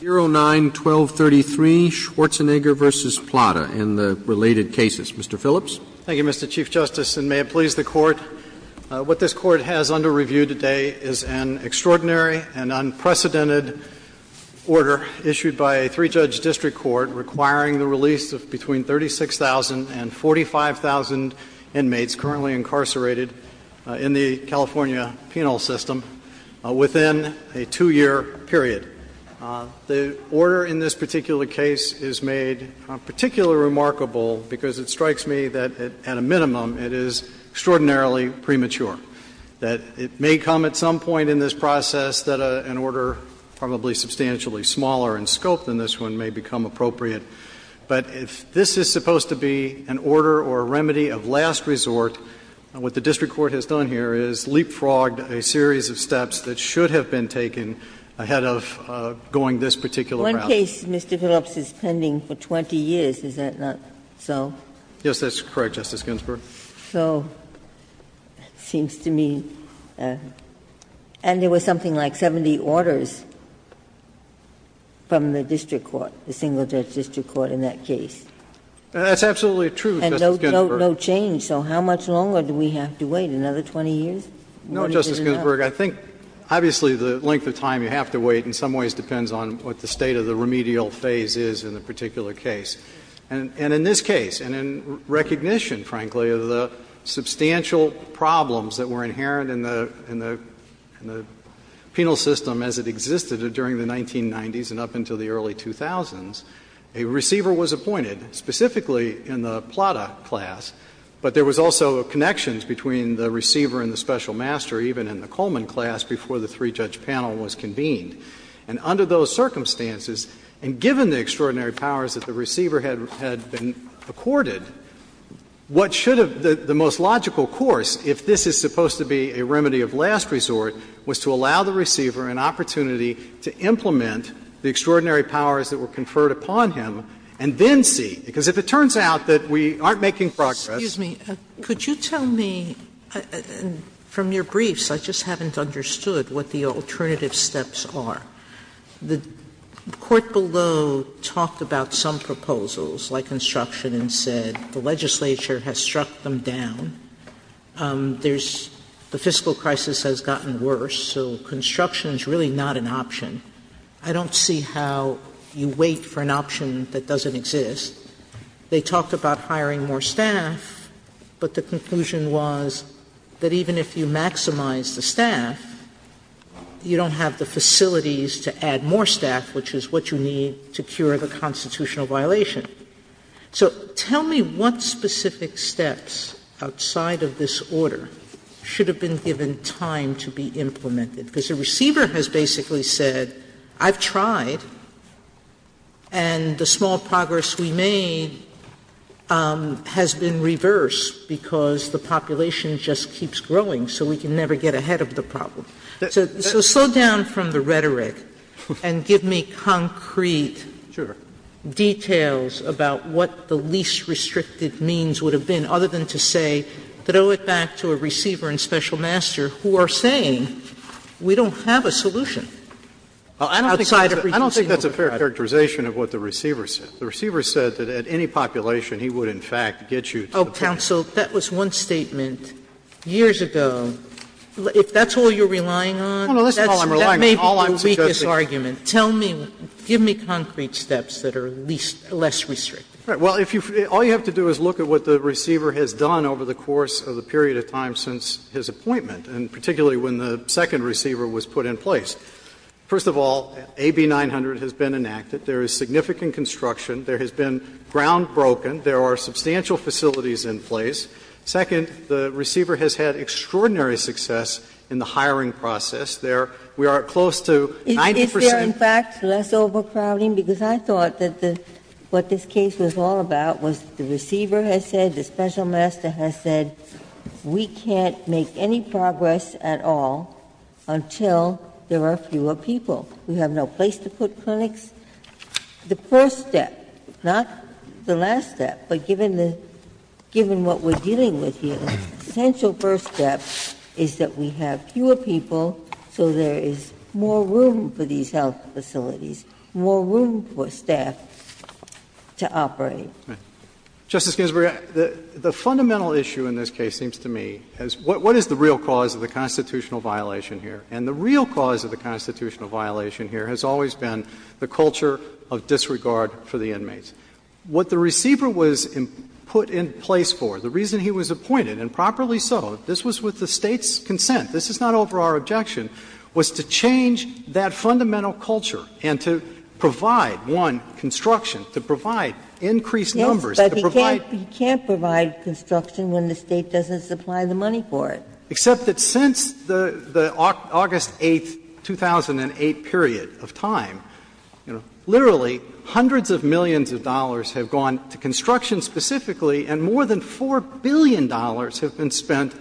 09-1233, Schwarzenegger v. Plata, and the related cases. Mr. Phillips? Thank you, Mr. Chief Justice, and may it please the Court. What this Court has under review today is an extraordinary and unprecedented order issued by a three-judge district court requiring the release of between 36,000 and 45,000 inmates currently incarcerated in the California penal system within a two-year period. The order in this particular case is made particularly remarkable because it strikes me that at a minimum it is extraordinarily premature, that it may come at some point in this process that an order probably substantially smaller in scope than this one may become appropriate. But if this is supposed to be an order or a remedy of last resort, what the district court has done here is leapfrogged a series of steps that should have been taken ahead of going this particular route. One case, Mr. Phillips, is pending for 20 years, is that not so? Yes, that's correct, Justice Ginsburg. So it seems to me, and there was something like 70 orders from the district court, the single-judge district court in that case. That's absolutely true, Justice Ginsburg. And no change, so how much longer do we have to wait, another 20 years? No, Justice Ginsburg, I think obviously the length of time you have to wait in some ways depends on what the state of the remedial phase is in a particular case. And in this case, and in recognition, frankly, of the substantial problems that were inherent in the penal system as it existed during the 1990s and up until the early 2000s, a receiver was appointed, specifically in the Plata class, but there was also connections between the receiver and the special master even in the Coleman class before the three-judge panel was convened. And under those circumstances, and given the extraordinary powers that the receiver had been accorded, what should have the most logical course, if this is supposed to be a remedy of last resort, was to allow the receiver an opportunity to implement the extraordinary powers that were conferred upon him and then see, because if it turns out that we aren't making progress. Excuse me. Could you tell me, from your briefs, I just haven't understood what the alternative steps are. The court below talked about some proposals, like construction, and said the legislature has struck them down. The fiscal crisis has gotten worse, so construction is really not an option. I don't see how you wait for an option that doesn't exist. They talked about hiring more staff, but the conclusion was that even if you maximize the staff, you don't have the facilities to add more staff, which is what you need to cure the constitutional violation. So tell me what specific steps outside of this order should have been given time to be implemented, because the receiver has basically said, I've tried, and the small progress we made has been reversed, because the population just keeps growing, so we can never get ahead of the problem. So slow down from the rhetoric and give me concrete details about what the least restrictive means would have been, other than to say, throw it back to a receiver and special master who are saying we don't have a solution. I don't think that's a fair characterization of what the receiver said. The receiver said that at any population, he would, in fact, get you to the point. Counsel, that was one statement years ago. If that's all you're relying on, that may be the weakest argument. Tell me, give me concrete steps that are at least less restrictive. Well, all you have to do is look at what the receiver has done over the course of the period of time since his appointment, and particularly when the second receiver was put in place. First of all, AB 900 has been enacted. There is significant construction. There has been ground broken. There are substantial facilities in place. Second, the receiver has had extraordinary success in the hiring process. We are close to 90%. We are, in fact, less overcrowding because I thought that what this case was all about was the receiver has said, the special master has said, we can't make any progress at all until there are fewer people. We have no place to put clinics. The first step, not the last step, but given what we're dealing with here, the potential first step is that we have fewer people so there is more room for these health facilities, more room for staff to operate. Justice Ginsburg, the fundamental issue in this case seems to me is what is the real cause of the constitutional violation here? And the real cause of the constitutional violation here has always been the culture of disregard for the inmates. What the receiver was put in place for, the reason he was appointed and properly so, this was with the state's consent, this is not over our objection, was to change that fundamental culture and to provide, one, construction, to provide increased numbers. But you can't provide construction when the state doesn't supply the money for it. Except that since the August 8, 2008 period of time, literally hundreds of millions of dollars have gone to construction specifically and more than $4 billion have been spent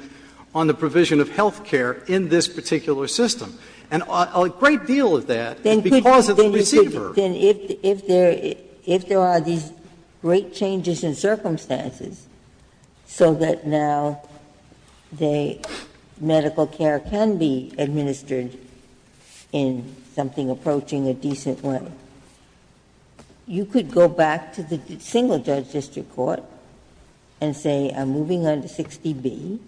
on the provision of health care in this particular system. And a great deal of that is because of the receiver. If there are these great changes in circumstances so that now the medical care can be administered in something approaching a decent level, you could go back to the single judge district court and say I'm moving on to 60B.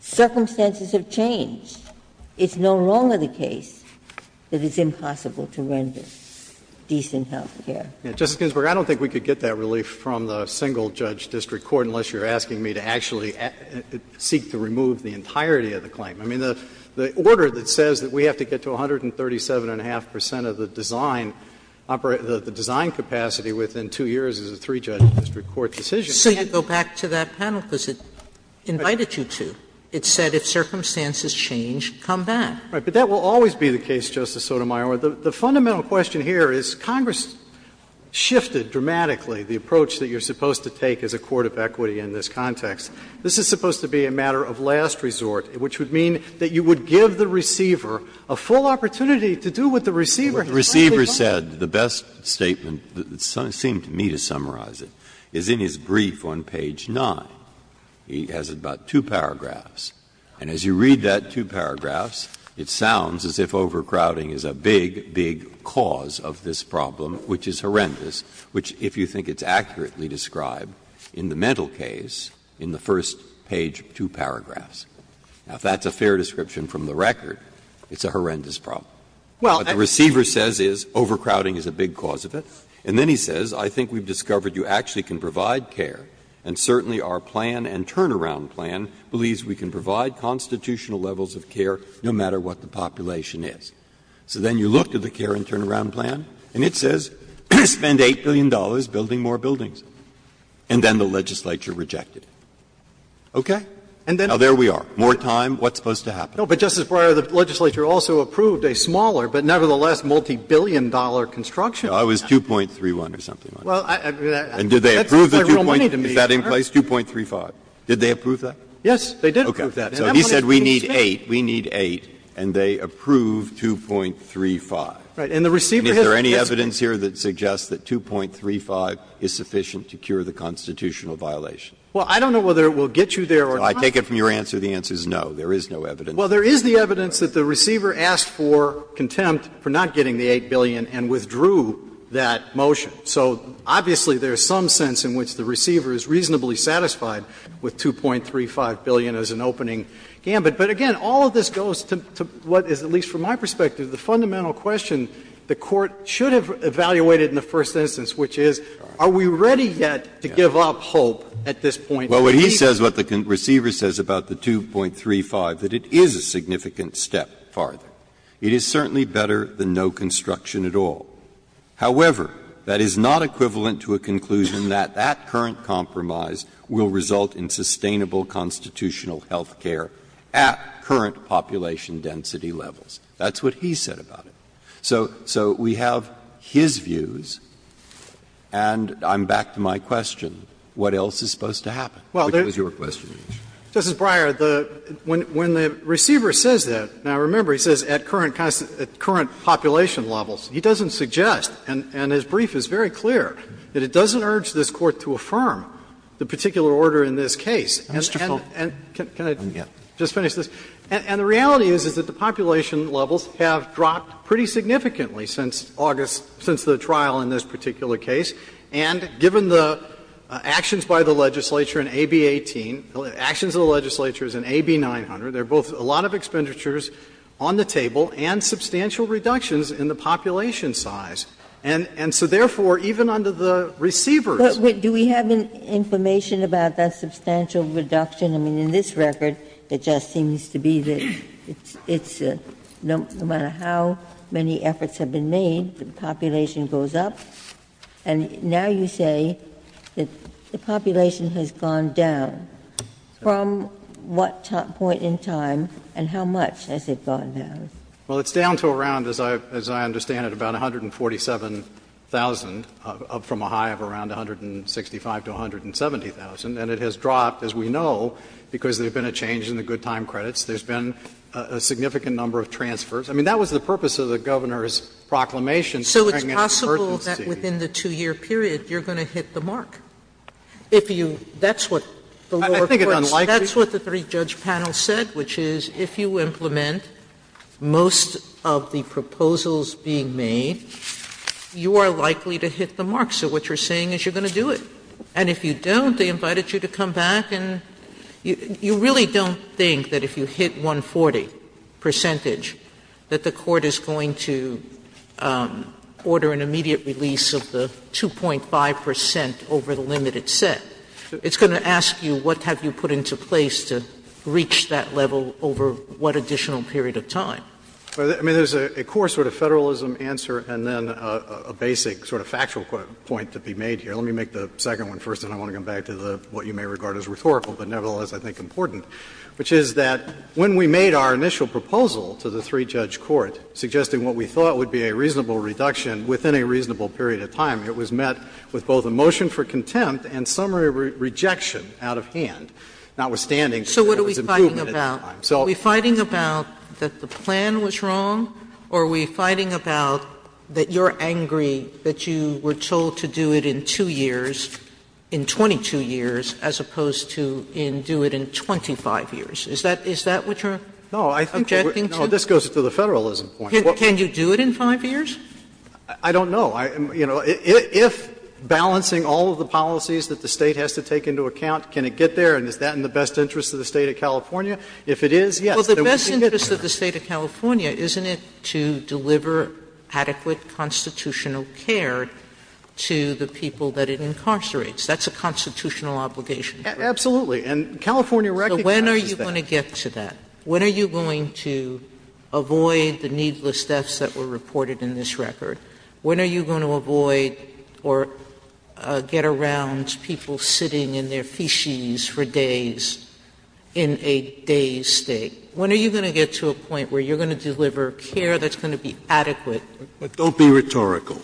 Circumstances have changed. It's no longer the case that it's impossible to render decent health care. Justice Ginsburg, I don't think we could get that relief from the single judge district court unless you're asking me to actually seek to remove the entirety of the claim. I mean, the order that says that we have to get to 137.5 percent of the design capacity within two years is a three-judge district court decision. You can't go back to that panel because it invited you to. It said if circumstances change, come back. But that will always be the case, Justice Sotomayor. The fundamental question here is Congress shifted dramatically the approach that you're supposed to take as a court of equity in this context. This is supposed to be a matter of last resort, which would mean that you would give the receiver a full opportunity to do what the receiver has to do. The receiver said the best statement, it seemed to me to summarize it, is in his brief on page 9. He has about two paragraphs, and as you read that two paragraphs, it sounds as if overcrowding is a big, big cause of this problem, which is horrendous, which if you think it's accurately described in the mental case in the first page two paragraphs. Now, if that's a fair description from the record, it's a horrendous problem. What the receiver says is overcrowding is a big cause of it, and then he says, I think we've discovered you actually can provide care, and certainly our plan and turnaround plan believes we can provide constitutional levels of care no matter what the population is. So then you look to the care and turnaround plan, and it says spend $8 billion building more buildings, and then the legislature rejected it. Okay? Now, there we are. More time, what's supposed to happen? No, but Justice Breyer, the legislature also approved a smaller but nevertheless multi-billion dollar construction. It was 2.31 or something like that. And did they approve the 2.3? Is that in place? 2.35. Did they approve that? Yes, they did approve that. Okay. So he said we need 8, we need 8, and they approved 2.35. Right, and the receiver hit the button. Is there any evidence here that suggests that 2.35 is sufficient to cure the constitutional violation? Well, I don't know whether it will get you there or not. I take it from your answer the answer is no, there is no evidence. Well, there is the evidence that the receiver asked for contempt for not getting the 8 billion and withdrew that motion. So obviously there is some sense in which the receiver is reasonably satisfied with 2.35 billion as an opening gambit. But, again, all of this goes to what is, at least from my perspective, the fundamental question the court should have evaluated in the first instance, which is are we ready yet to give up hope at this point? Well, what he says, what the receiver says about the 2.35, that it is a significant step farther. It is certainly better than no construction at all. However, that is not equivalent to a conclusion that that current compromise will result in sustainable constitutional health care at current population density levels. That's what he said about it. So we have his views, and I'm back to my question. What else is supposed to happen? Which was your question? Justice Breyer, when the receiver says that, now, remember, he says at current population levels. He doesn't suggest, and his brief is very clear, that it doesn't urge this Court to affirm the particular order in this case. Can I just finish this? And the reality is that the population levels have dropped pretty significantly since August, since the trial in this particular case, and given the actions by the legislature in AB 18, actions of the legislature in AB 900, there are both a lot of expenditures on the table and substantial reductions in the population size. And so, therefore, even under the receivers — But do we have information about that substantial reduction? I mean, in this record, it just seems to be that no matter how many efforts have been made, the population goes up. And now you say that the population has gone down. From what point in time and how much has it gone down? Well, it's down to around, as I understand it, about 147,000, up from a high of around 165,000 to 170,000. And it has dropped, as we know, because there's been a change in the good time credits. There's been a significant number of transfers. I mean, that was the purpose of the governor's proclamation. So it's possible that within the two-year period, you're going to hit the mark. I think it's unlikely. That's what the three-judge panel said, which is if you implement most of the proposals being made, you are likely to hit the mark. So what you're saying is you're going to do it. And if you don't, they invited you to come back. And you really don't think that if you hit 140 percentage that the court is going to order an immediate release of the 2.5 percent over the limited set. It's going to ask you what have you put into place to reach that level over what additional period of time. I mean, there's a core sort of federalism answer and then a basic sort of factual point to be made here. Let me make the second one first, and then I want to come back to what you may regard as rhetorical but nevertheless I think important, which is that when we made our initial proposal to the three-judge court suggesting what we thought would be a reasonable reduction within a reasonable period of time, it was met with both a motion for contempt and summary rejection out of hand, notwithstanding the improvement in time. Are we fighting about that the plan was wrong or are we fighting about that you're angry that you were told to do it in two years, in 22 years, as opposed to do it in 25 years? Is that what you're objecting to? No, this goes to the federalism point. Can you do it in five years? I don't know. If balancing all of the policies that the state has to take into account, can it get there and is that in the best interest of the state of California? If it is, yes. Well, the best interest of the state of California isn't it to deliver adequate constitutional care to the people that it incarcerates. That's a constitutional obligation. Absolutely. And California recognizes that. So when are you going to get to that? When are you going to avoid the needless deaths that were reported in this record? When are you going to avoid or get around people sitting in their fiches for days in a dazed state? When are you going to get to a point where you're going to deliver care that's going to be adequate? Don't be rhetorical.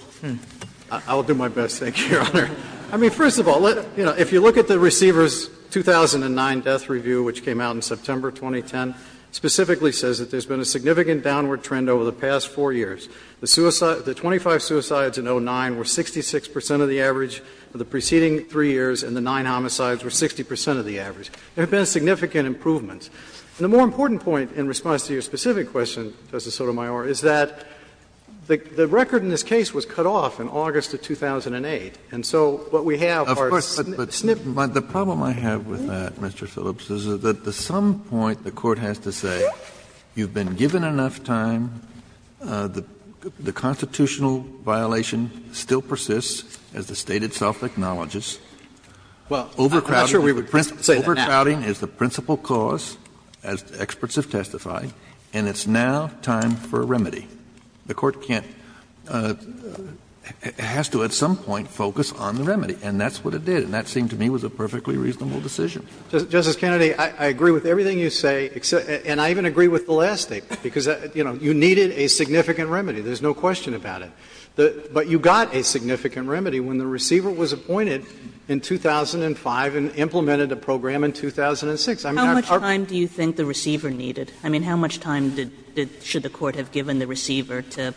I'll do my best. Thank you, Your Honor. I mean, first of all, if you look at the receiver's 2009 death review, which came out in September 2010, specifically says that there's been a significant downward trend over the past four years. The 25 suicides in 2009 were 66 percent of the average for the preceding three years, and the nine homicides were 60 percent of the average. There have been significant improvements. And the more important point in response to your specific question, Justice Sotomayor, is that the record in this case was cut off in August of 2008. And so what we have are— The constitutional violation still persists, as the State itself acknowledges. Well, I'm not sure we would say that. Overcrowding is the principal cause, as experts have testified, and it's now time for a remedy. The Court can't—has to at some point focus on the remedy, and that's what it did, and that seemed to me was a perfectly reasonable decision. Justice Kennedy, I agree with everything you say, and I even agree with the last statement, because, you know, you needed a significant remedy. There's no question about it. But you got a significant remedy when the receiver was appointed in 2005 and implemented a program in 2006. How much time do you think the receiver needed? I mean, how much time should the Court have given the receiver to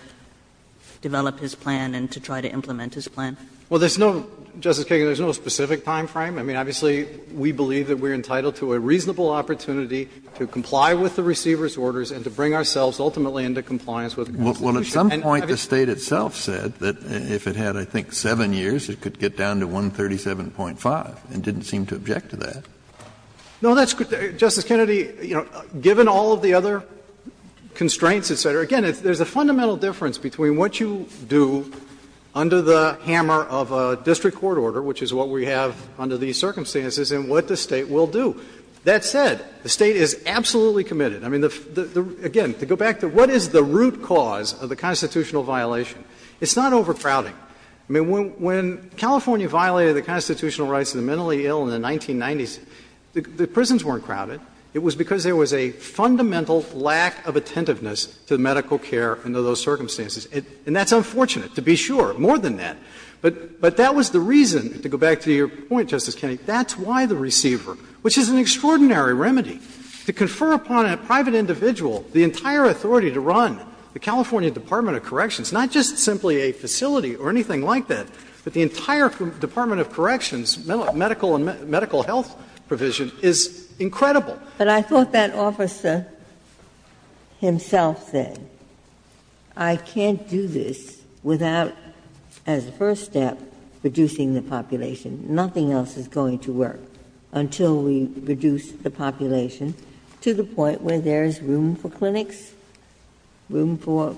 develop his plan and to try to implement his plan? Well, there's no—Justice Kennedy, there's no specific time frame. I mean, obviously, we believe that we're entitled to a reasonable opportunity to comply with the receiver's orders and to bring ourselves ultimately into compliance with the Constitution. Well, at some point, the State itself said that if it had, I think, seven years, it could get down to 137.5 and didn't seem to object to that. No, that's—Justice Kennedy, you know, given all of the other constraints, et cetera, again, there's a fundamental difference between what you do under the hammer of a district court order, which is what we have under these circumstances, and what the State will do. That said, the State is absolutely committed. I mean, again, to go back to what is the root cause of the constitutional violation, it's not overcrowding. I mean, when California violated the constitutional rights of the mentally ill in the 1990s, the prisons weren't crowded. It was because there was a fundamental lack of attentiveness to medical care under those circumstances. And that's unfortunate, to be sure, more than that. But that was the reason—to go back to your point, Justice Kennedy—that's why the receiver, which is an extraordinary remedy, to confer upon a private individual the entire authority to run the California Department of Corrections, not just simply a facility or anything like that, but the entire Department of Corrections medical health provision is incredible. But I thought that officer himself said, I can't do this without, as a first step, reducing the population. Nothing else is going to work until we reduce the population to the point where there is room for clinics, room for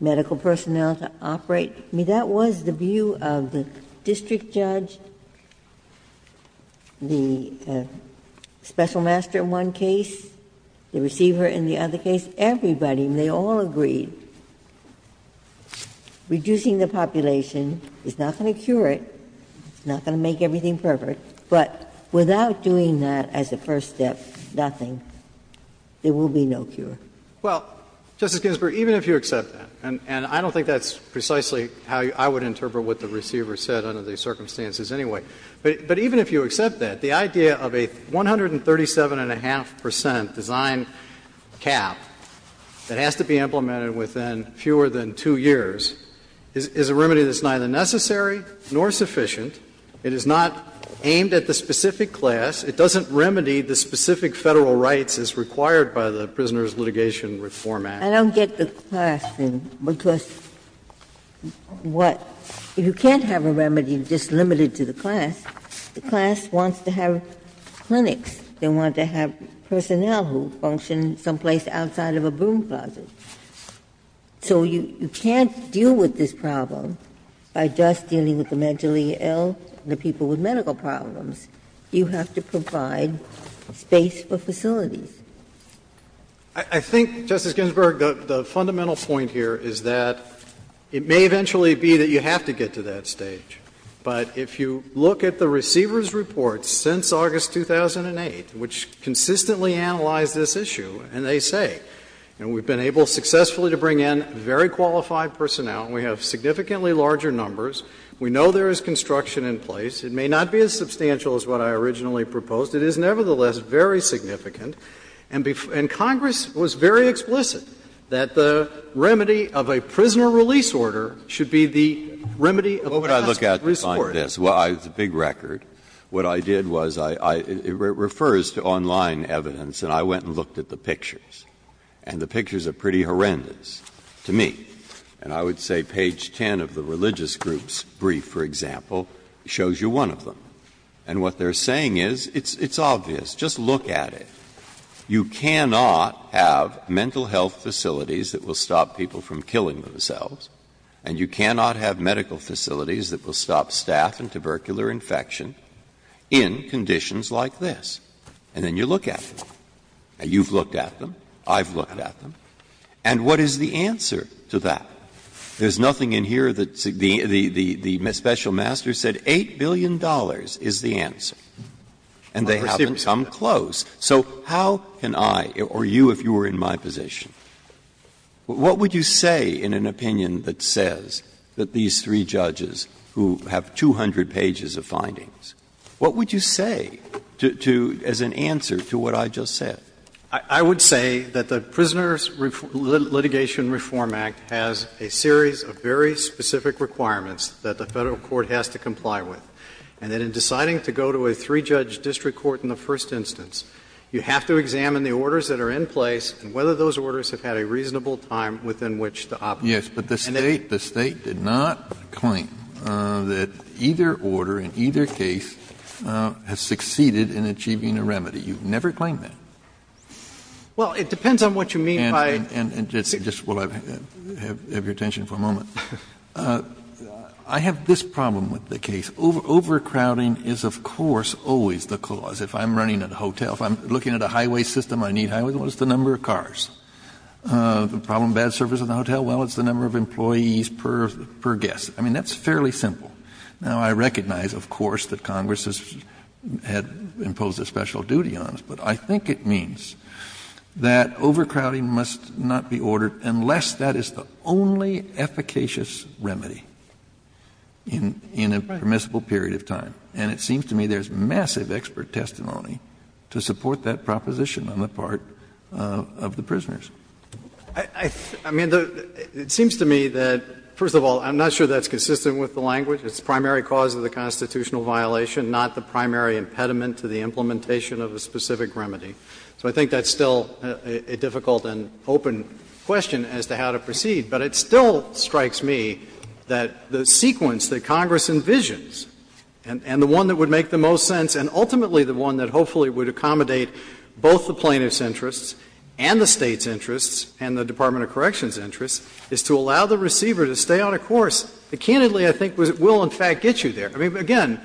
medical personnel to operate. I mean, that was the view of the district judge, the special master in one case, the receiver in the other case, everybody, and they all agreed. Reducing the population is not going to cure it. It's not going to make everything perfect. But without doing that as a first step, nothing, there will be no cure. Well, Justice Ginsburg, even if you accept that, and I don't think that's precisely how I would interpret what the receiver said under these circumstances anyway, but even if you accept that, the idea of a 137.5% design cap that has to be implemented within fewer than two years is a remedy that's neither necessary nor sufficient. It is not aimed at the specific class. It doesn't remedy the specific federal rights as required by the Prisoner's Litigation Reform Act. I don't get the question because what, if you can't have a remedy just limited to the class, the class wants to have clinics. They want to have personnel who function someplace outside of a boom closet. So you can't deal with this problem by just dealing with the mentally ill and the people with medical problems. You have to provide space for facilities. I think, Justice Ginsburg, the fundamental point here is that it may eventually be that you have to get to that stage. But if you look at the receiver's report since August 2008, which consistently analyzed this issue, and they say, and we've been able successfully to bring in very qualified personnel, and we have significantly larger numbers, we know there is construction in place. It may not be as substantial as what I originally proposed. It is, nevertheless, very significant. And Congress was very explicit that the remedy of a prisoner release order should be the remedy of a consular release order. Well, when I look at this, it's a big record. What I did was, it refers to online evidence. And I went and looked at the pictures. And the pictures are pretty horrendous to me. And I would say page 10 of the religious group's brief, for example, shows you one of them. And what they're saying is, it's obvious. Just look at it. You cannot have mental health facilities that will stop people from killing themselves. And you cannot have medical facilities that will stop staph and tubercular infection in conditions like this. And then you look at them. And you've looked at them. I've looked at them. And what is the answer to that? There's nothing in here that the special master said. $8 billion is the answer. And they haven't come close. So how can I, or you if you were in my position, what would you say in an opinion that says that these three judges who have 200 pages of findings, what would you say as an answer to what I just said? I would say that the Prisoners Litigation Reform Act has a series of very specific requirements that the federal court has to comply with. And in deciding to go to a three-judge district court in the first instance, you have to examine the orders that are in place and whether those orders have had a reasonable time within which to operate. Yes, but the state did not claim that either order in either case has succeeded in achieving a remedy. You've never claimed that. Well, it depends on what you mean. And just while I have your attention for a moment, I have this problem with the case. Overcrowding is, of course, always the cause. If I'm running a hotel, if I'm looking at a highway system, I need to know what's the number of cars. The problem of bad service in a hotel, well, it's the number of employees per guest. I mean, that's fairly simple. Now, I recognize, of course, that Congress has imposed a special duty on us, but I think it means that overcrowding must not be ordered unless that is the only efficacious remedy in a permissible period of time. And it seems to me there's massive expert testimony to support that proposition on the part of the prisoners. I mean, it seems to me that, first of all, I'm not sure that's consistent with the language. It's the primary cause of the constitutional violation, not the primary impediment to the implementation of a specific remedy. So I think that's still a difficult and open question as to how to proceed, but it still strikes me that the sequence that Congress envisions and the one that would make the most sense and ultimately the one that hopefully would accommodate both the plaintiff's interests and the state's interests and the Department of Corrections' interests is to allow the receiver to stay on a course that candidly, I think, will, in fact, get you there. I mean, again,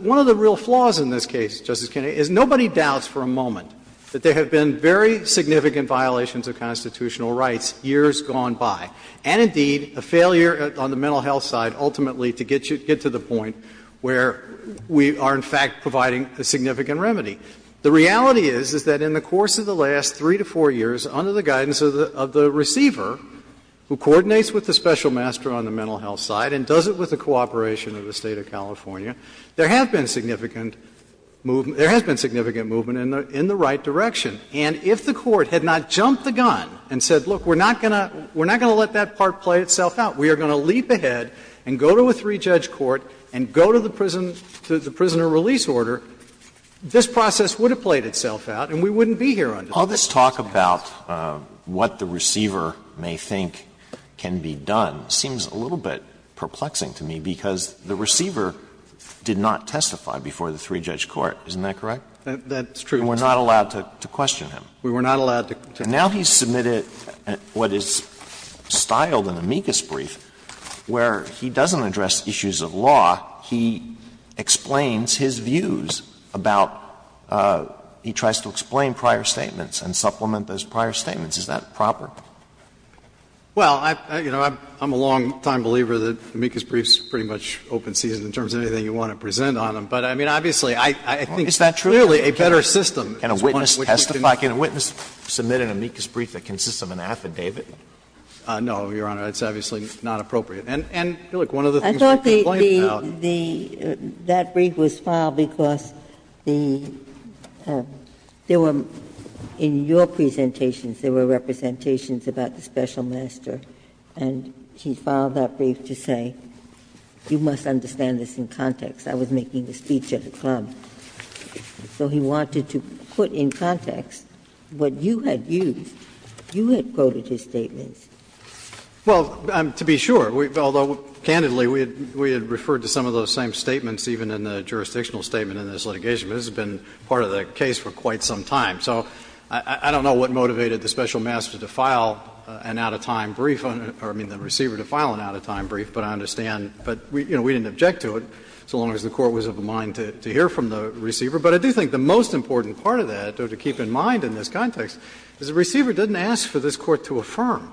one of the real flaws in this case, Justice Kennedy, is nobody doubts for a moment that there have been very significant violations of constitutional rights years gone by, and indeed a failure on the mental health side ultimately to get to the point where we are, in fact, providing a significant remedy. The reality is that in the course of the last three to four years, under the guidance of the receiver, who coordinates with the special master on the mental health side and does it with the cooperation of the state of California, there has been significant movement in the right direction. And if the court had not jumped the gun and said, look, we're not going to let that part play itself out, we are going to leap ahead and go to a three-judge court and go to the prisoner release order, this process would have played itself out and we wouldn't be here right now. All this talk about what the receiver may think can be done seems a little bit perplexing to me because the receiver did not testify before the three-judge court. Isn't that correct? That's true. We were not allowed to question him. We were not allowed to question him. So now he's submitted what is styled an amicus brief where he doesn't address issues of law. He explains his views about – he tries to explain prior statements and supplement those prior statements. Is that proper? Well, you know, I'm a long-time believer that amicus briefs pretty much open seated in terms of anything you want to present on them. But, I mean, obviously, I think that's clearly a better system. Can a witness testify? Can a witness submit an amicus brief that consists of an affidavit? No, Your Honor. It's obviously not appropriate. And, Phyllis, one of the things that came out – I thought that brief was filed because there were – in your presentations there were representations about the special master and he filed that brief to say you must understand this in context. I was making a speech at the conference. So he wanted to put in context what you had used. You had quoted his statement. Well, to be sure, although, candidly, we had referred to some of those same statements even in the jurisdictional statement in this litigation. This has been part of the case for quite some time. So I don't know what motivated the special master to file an out-of-time brief – or, I mean, the receiver to file an out-of-time brief, but I understand. But, you know, we didn't object to it so long as the Court was of the mind to hear from the receiver. But I do think the most important part of that, though, to keep in mind in this context, is the receiver didn't ask for this Court to affirm.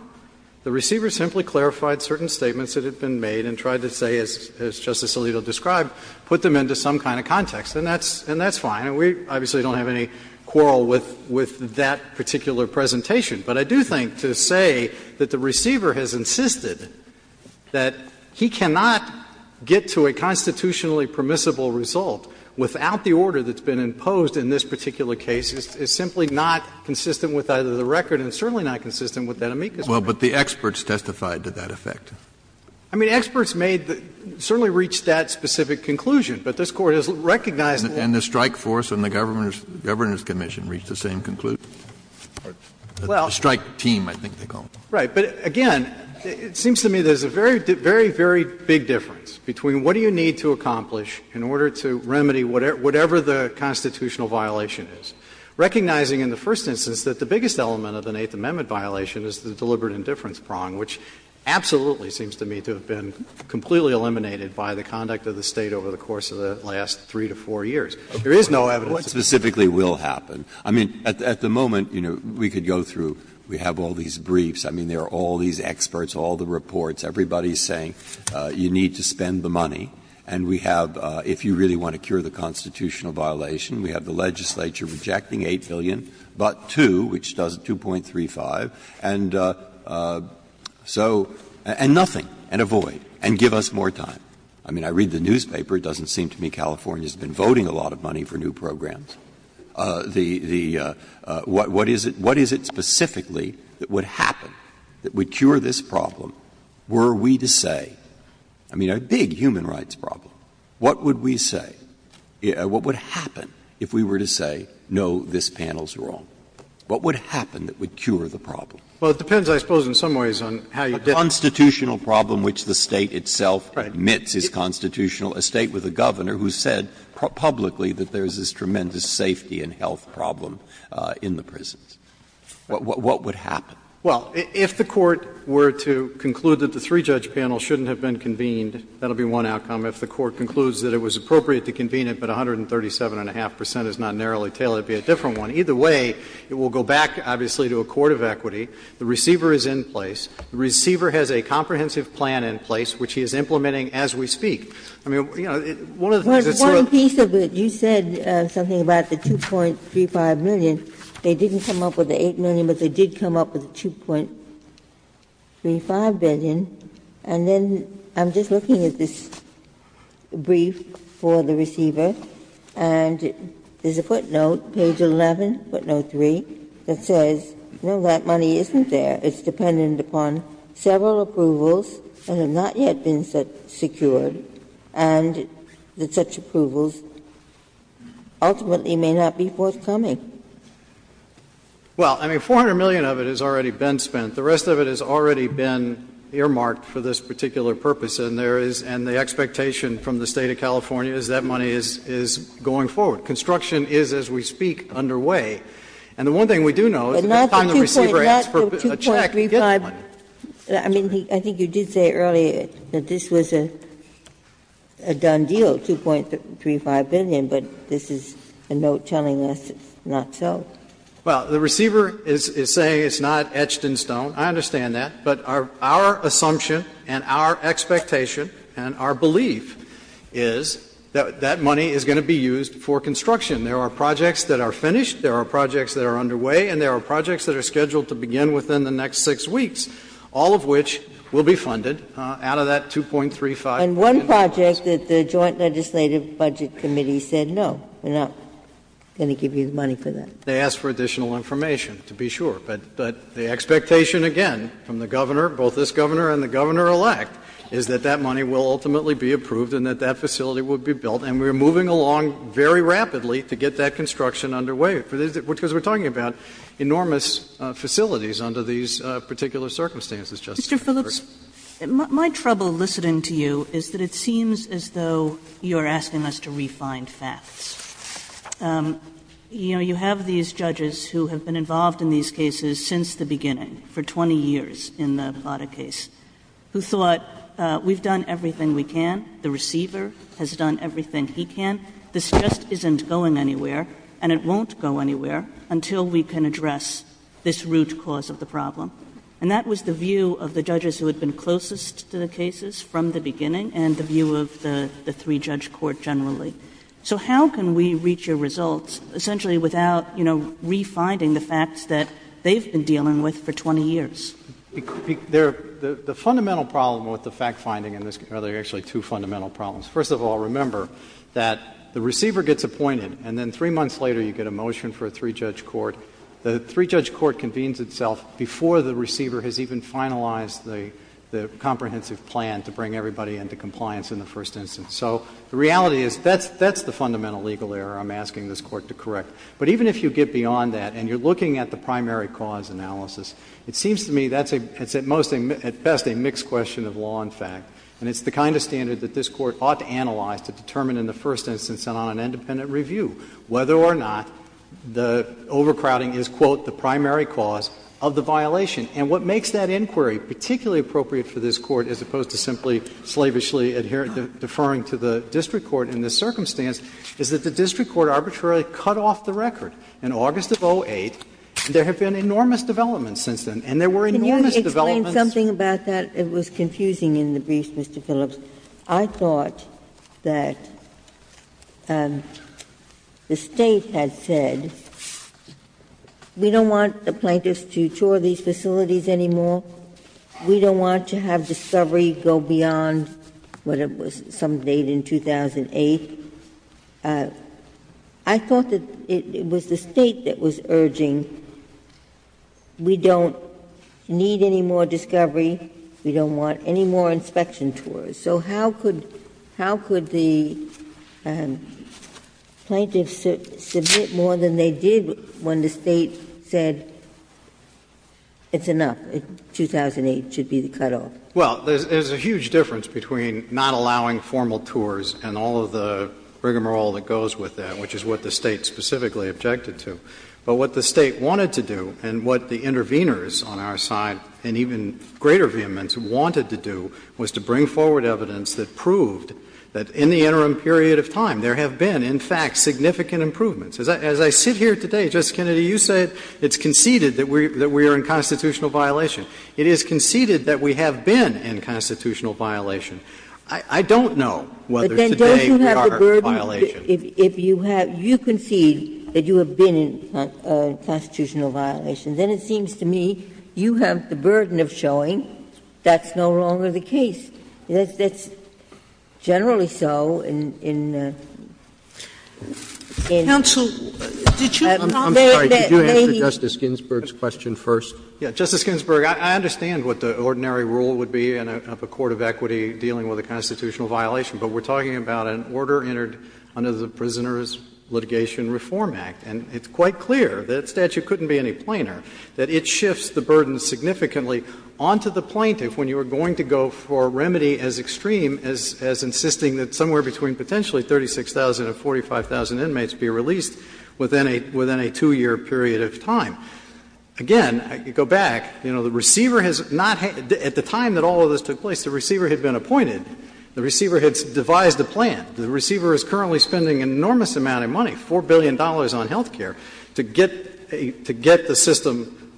The receiver simply clarified certain statements that had been made and tried to say, as Justice Alito described, put them into some kind of context. And that's fine. And we obviously don't have any quarrel with that particular presentation. But I do think to say that the receiver has insisted that he cannot get to a constitutionally permissible result without the order that's been imposed in this particular case is simply not consistent with either the record and certainly not consistent with that amicus. Well, but the experts testified to that effect. I mean, experts made – certainly reached that specific conclusion. But this Court has recognized – And the strike force and the Governor's Commission reached the same conclusion? The strike team, I think they call them. Right. But, again, it seems to me there's a very, very big difference between what do you need to accomplish in order to remedy whatever the constitutional violation is, recognizing in the first instance that the biggest element of an Eighth Amendment violation is the deliberate indifference prong, which absolutely seems to me to have been completely eliminated by the conduct of the State over the course of the last three to four years. There is no evidence. But what specifically will happen? I mean, at the moment, you know, we could go through – we have all these briefs. I mean, there are all these experts, all the reports. Everybody is saying you need to spend the money. And we have, if you really want to cure the constitutional violation, we have the legislature rejecting $8 billion but two, which does 2.35. And so – and nothing. And a void. And give us more time. I mean, I read the newspaper. It doesn't seem to me California has been voting a lot of money for new programs. What is it specifically that would happen that would cure this problem? Were we to say – I mean, a big human rights problem. What would we say? What would happen if we were to say, no, this panel is wrong? What would happen that would cure the problem? Well, it depends, I suppose, in some ways on how you – A constitutional problem which the state itself admits is constitutional. A state with a governor who said publicly that there is this tremendous safety and health problem in the prisons. What would happen? Well, if the court were to conclude that the three-judge panel shouldn't have been convened, that would be one outcome. If the court concludes that it was appropriate to convene it but 137.5 percent is not narrowly tailored, it would be a different one. Either way, it will go back, obviously, to a court of equity. The receiver is in place. The receiver has a comprehensive plan in place which he is implementing as we speak. One piece of it, you said something about the $2.35 million. They didn't come up with the $8 million, but they did come up with $2.35 billion. And then I'm just looking at this brief for the receiver. And there's a footnote, page 11, footnote 3, that says, no, that money isn't there. It's dependent upon several approvals that have not yet been secured, and such approvals ultimately may not be forthcoming. Well, I mean, $400 million of it has already been spent. The rest of it has already been earmarked for this particular purpose, and the expectation from the State of California is that money is going forward. Construction is, as we speak, underway. And the one thing we do know is the time the receiver asked for a check. I mean, I think you did say earlier that this was a done deal, $2.35 billion, but this is a note telling us it's not so. Well, the receiver is saying it's not etched in stone. I understand that. But our assumption and our expectation and our belief is that that money is going to be used for construction. There are projects that are finished. There are projects that are underway. And there are projects that are scheduled to begin within the next six weeks, all of which will be funded out of that $2.35 billion. And one project that the Joint Legislative Budget Committee said no, they're not going to give you the money for that. They asked for additional information, to be sure. But the expectation, again, from the governor, both this governor and the governor-elect, is that that money will ultimately be approved and that that facility will be built. And we're moving along very rapidly to get that construction underway, because we're talking about enormous facilities under these particular circumstances. Mr. Phillips, my trouble listening to you is that it seems as though you're asking us to refine facts. You know, you have these judges who have been involved in these cases since the beginning, for 20 years in the Vada case, who thought we've done everything we can. The receiver has done everything he can. This just isn't going anywhere, and it won't go anywhere, until we can address this root cause of the problem. And that was the view of the judges who had been closest to the cases from the beginning and the view of the three-judge court generally. So how can we reach a result essentially without, you know, refinding the facts that they've been dealing with for 20 years? The fundamental problem with the fact-finding in this case, well, there are actually two fundamental problems. First of all, remember that the receiver gets appointed, and then three months later you get a motion for a three-judge court. The three-judge court convenes itself before the receiver has even finalized the comprehensive plan to bring everybody into compliance in the first instance. So the reality is that's the fundamental legal error I'm asking this court to correct. But even if you get beyond that and you're looking at the primary cause analysis, it seems to me that's at best a mixed question of law and fact. And it's the kind of standard that this court ought to analyze to determine in the first instance and on an independent review whether or not the overcrowding is, quote, the primary cause of the violation. And what makes that inquiry particularly appropriate for this court as opposed to simply slavishly deferring to the district court in this circumstance is that the district court arbitrarily cut off the record. And there have been enormous developments since then, and there were enormous developments. Can you explain something about that? It was confusing in the brief, Mr. Phillips. I thought that the state had said, we don't want the plaintiffs to tour these facilities anymore. We don't want to have discovery go beyond what it was some date in 2008. I thought that it was the state that was urging, we don't need any more discovery. We don't want any more inspection tours. So how could the plaintiffs submit more than they did when the state said, it's enough. 2008 should be the cutoff. Well, there's a huge difference between not allowing formal tours and all of the rigmarole that goes with that, which is what the state specifically objected to. But what the state wanted to do and what the interveners on our side and even greater vehemence wanted to do was to bring forward evidence that proved that in the interim period of time there have been, in fact, significant improvements. As I sit here today, Justice Kennedy, you said it's conceded that we are in constitutional violation. It is conceded that we have been in constitutional violation. I don't know whether today we are in violation. But then doesn't that have the burden, if you have, you concede that you have been in constitutional violation, then it seems to me you have the burden of showing that's no longer the case. That's generally so in the... Counsel, did you have a comment that maybe... I'm sorry. Could you answer Justice Ginsburg's question first? Justice Ginsburg, I understand what the ordinary rule would be in a court of equity dealing with a constitutional violation. But we're talking about an order entered under the Prisoner's Litigation Reform Act. And it's quite clear that the statute couldn't be any plainer, that it shifts the burden significantly onto the plaintiff when you are going to go for a remedy as extreme as insisting that somewhere between potentially 36,000 and 45,000 inmates be released within a two-year period of time. Again, I could go back. You know, the receiver has not... At the time that all of this took place, the receiver had been appointed. The receiver had devised a plan. The receiver is currently spending an enormous amount of money, $4 billion on health care, to get the system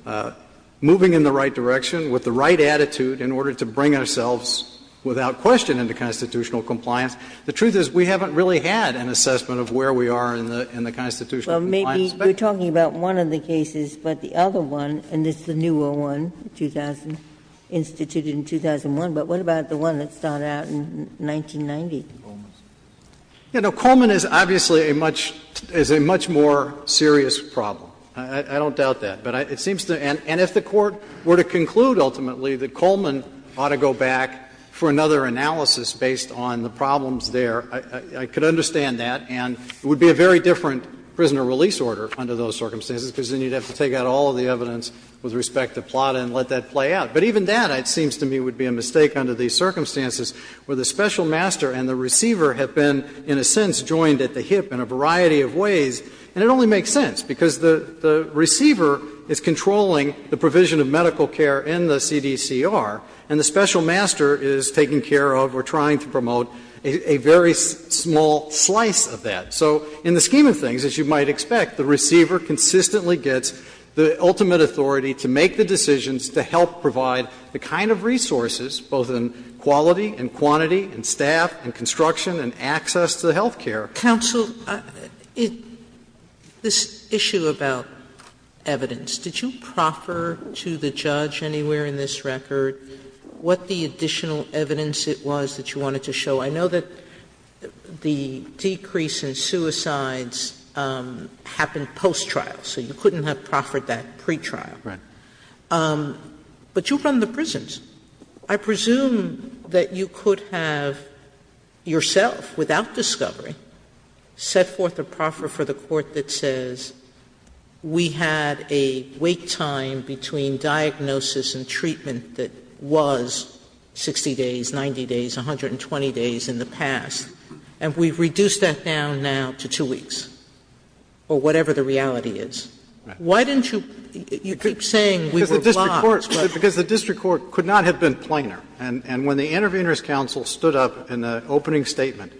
moving in the right direction with the right attitude in order to bring ourselves without question into constitutional compliance. The truth is we haven't really had an assessment of where we are in the constitutional compliance. Well, maybe you're talking about one of the cases, but the other one, and this is a newer one, instituted in 2001, but what about the one that started out in 1990? You know, Coleman is obviously a much more serious problem. I don't doubt that. And if the Court were to conclude ultimately that Coleman ought to go back for another analysis based on the problems there, I could understand that. And it would be a very different prisoner release order under those circumstances because then you'd have to take out all of the evidence with respect to PLATA and let that play out. But even that, it seems to me, would be a mistake under these circumstances where the special master and the receiver have been, in a sense, joined at the hip in a variety of ways, and it only makes sense because the receiver is controlling the provision of medical care in the CDCR, and the special master is taking care of or trying to promote a very small slice of that. So in the scheme of things, as you might expect, the receiver consistently gets the ultimate authority to make the decisions to help provide the kind of resources, both in quality and quantity and staff and construction and access to the health care. Counsel, this issue about evidence, did you proffer to the judge anywhere in this record what the additional evidence it was that you wanted to show? I know that the decrease in suicides happened post-trial, so you couldn't have proffered that pre-trial. But you run the prisons. I presume that you could have, yourself, without discovery, set forth a proffer for the court that says, we had a wait time between diagnosis and treatment that was 60 days, 90 days, 120 days in the past, and we've reduced that down now to two weeks, or whatever the reality is. Why didn't you keep saying we were blocked? Because the district court could not have been plainer. And when the Intervenors Council stood up in the opening statement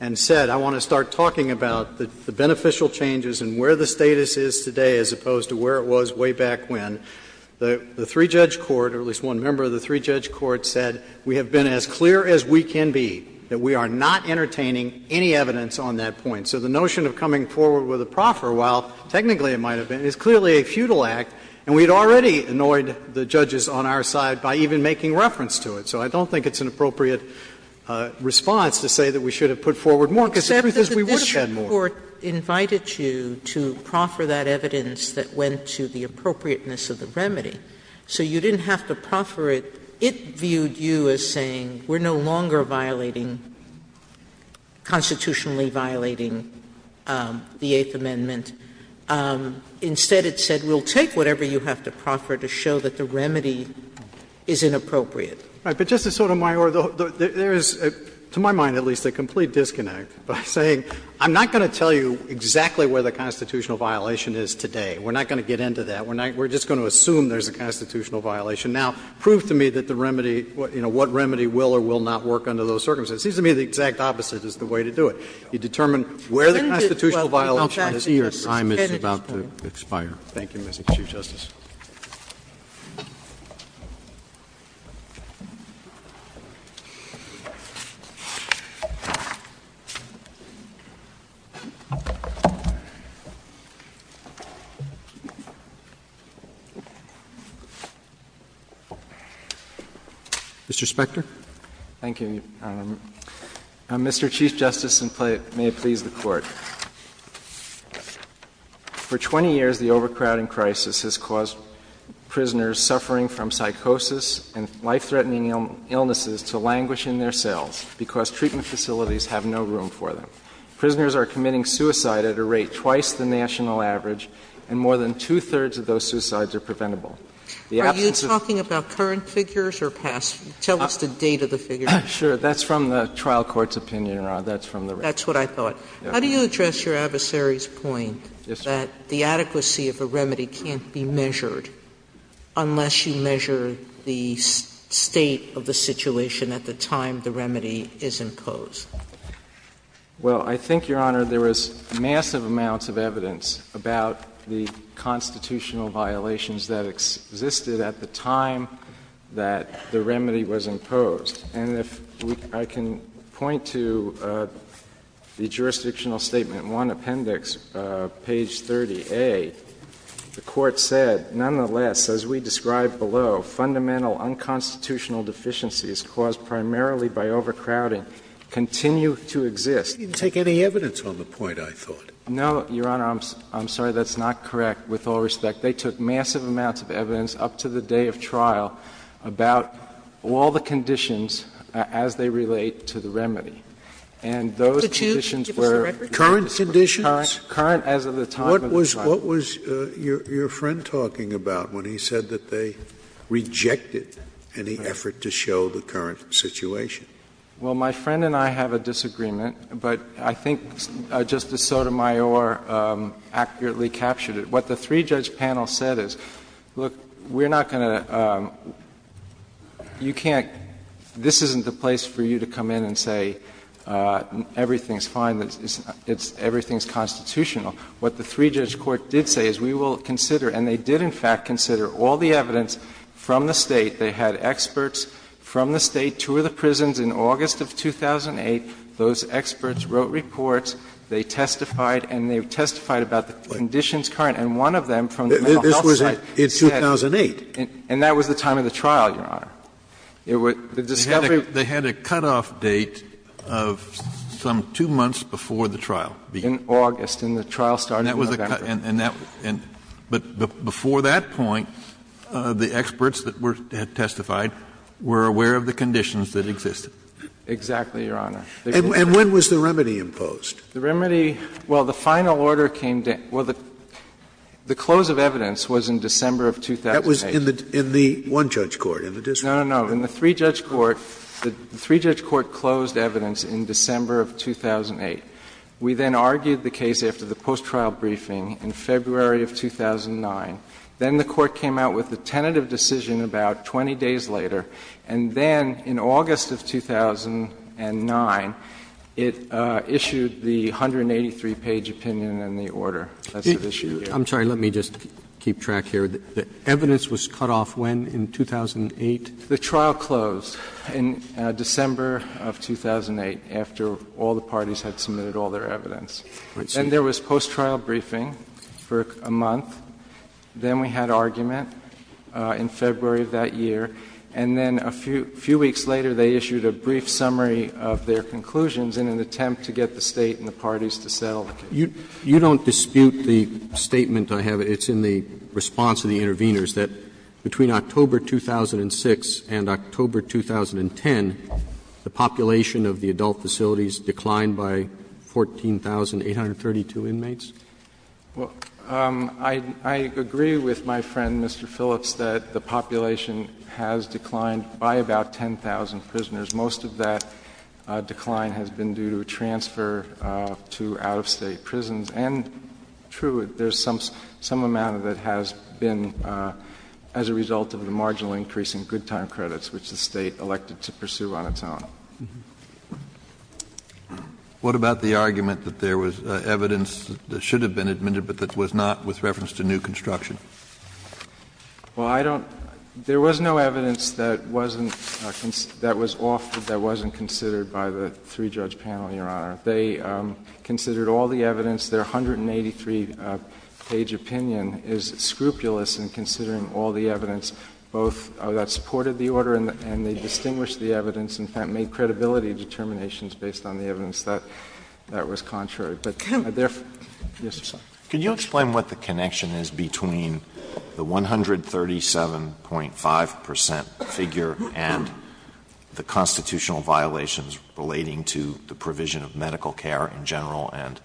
and said, I want to start talking about the beneficial changes and where the status is today as opposed to where it was way back when, the three-judge court, or at least one member of the three-judge court said, we have been as clear as we can be that we are not entertaining any evidence on that point. So the notion of coming forward with a proffer, while technically it might have been, is clearly a futile act, and we had already annoyed the judges on our side by even making reference to it. So I don't think it's an appropriate response to say that we should have put forward more, because it's because we wish we had more. But the district court invited you to proffer that evidence that went to the appropriateness of the remedy. So you didn't have to proffer it. It viewed you as saying, we're no longer violating, constitutionally violating the Eighth Amendment. Instead it said, we'll take whatever you have to proffer to show that the remedy is inappropriate. But Justice Sotomayor, there is, to my mind at least, a complete disconnect by saying, I'm not going to tell you exactly where the constitutional violation is today. We're not going to get into that. We're just going to assume there's a constitutional violation. Now, prove to me what remedy will or will not work under those circumstances. It seems to me the exact opposite is the way to do it. You determine where the constitutional violation is. I don't see your time. It's about to expire. Thank you, Mr. Chief Justice. Mr. Spector. Thank you. Mr. Chief Justice, and may it please the Court. For 20 years, the overcrowding crisis has caused prisoners suffering from psychosis and life-threatening illnesses to languish in their cells because treatment facilities have no room for them. Prisoners are committing suicide at a rate twice the national average, and more than two-thirds of those suicides are preventable. Are you talking about current figures or past figures? Tell us the date of the figures. Sure. That's from the trial court's opinion. That's what I thought. How do you address your adversary's point that the adequacy of the remedy can't be measured unless you measure the state of the situation at the time the remedy is imposed? Well, I think, Your Honor, there is massive amounts of evidence about the constitutional violations that existed at the time that the remedy was imposed. And if I can point to the jurisdictional statement, one appendix, page 30A, the Court said, nonetheless, as we described below, fundamental unconstitutional deficiencies caused primarily by overcrowding continue to exist. You didn't take any evidence on the point, I thought. No, Your Honor. I'm sorry. That's not correct with all respect. They took massive amounts of evidence up to the day of trial about all the conditions as they relate to the remedy. And those conditions were— Current conditions? Current as of the time of the trial. What was your friend talking about when he said that they rejected any effort to show the current situation? Well, my friend and I have a disagreement, but I think Justice Sotomayor accurately captured it. What the three-judge panel said is, look, we're not going to—you can't— this isn't the place for you to come in and say everything's fine, everything's constitutional. What the three-judge court did say is we will consider, and they did in fact consider all the evidence from the State. They had experts from the State tour the prisons in August of 2008. Those experts wrote reports. They testified, and they testified about the conditions current. And one of them— This was in 2008. And that was the time of the trial, Your Honor. The discovery— They had a cutoff date of some two months before the trial began. In August. And the trial started in November. And that—but before that point, the experts that testified were aware of the conditions that existed. Exactly, Your Honor. And when was the remedy imposed? The remedy—well, the final order came—well, the close of evidence was in December of 2008. That was in the one-judge court. No, no, no. In the three-judge court, the three-judge court closed evidence in December of 2008. We then argued the case after the post-trial briefing in February of 2009. Then the court came out with a tentative decision about 20 days later. And then, in August of 2009, it issued the 183-page opinion on the order. I'm sorry. Let me just keep track here. The evidence was cut off when? In 2008? The trial closed in December of 2008 after all the parties had submitted all their evidence. And there was post-trial briefing for a month. Then we had argument in February of that year. And then a few weeks later, they issued a brief summary of their conclusions in an attempt to get the State and the parties to settle. You don't dispute the statement I have. It's in the response of the interveners that between October 2006 and October 2010, the population of the adult facilities declined by 14,832 inmates? Well, I agree with my friend, Mr. Phillips, that the population has declined by about 10,000 prisoners. Most of that decline has been due to transfer to out-of-state prisons. And true, there's some amount of it that has been as a result of the marginal increase in good time credits, which the State elected to pursue on its own. What about the argument that there was evidence that should have been admitted but that was not with reference to new construction? Well, there was no evidence that wasn't considered by the three-judge panel, Your Honor. They considered all the evidence. Their 183-page opinion is scrupulous in considering all the evidence, both that supported the order and they distinguished the evidence and made credibility determinations based on the evidence that that was contrary. Can you explain what the connection is between the 137.5% figure and the constitutional violations relating to the provision of medical care in general and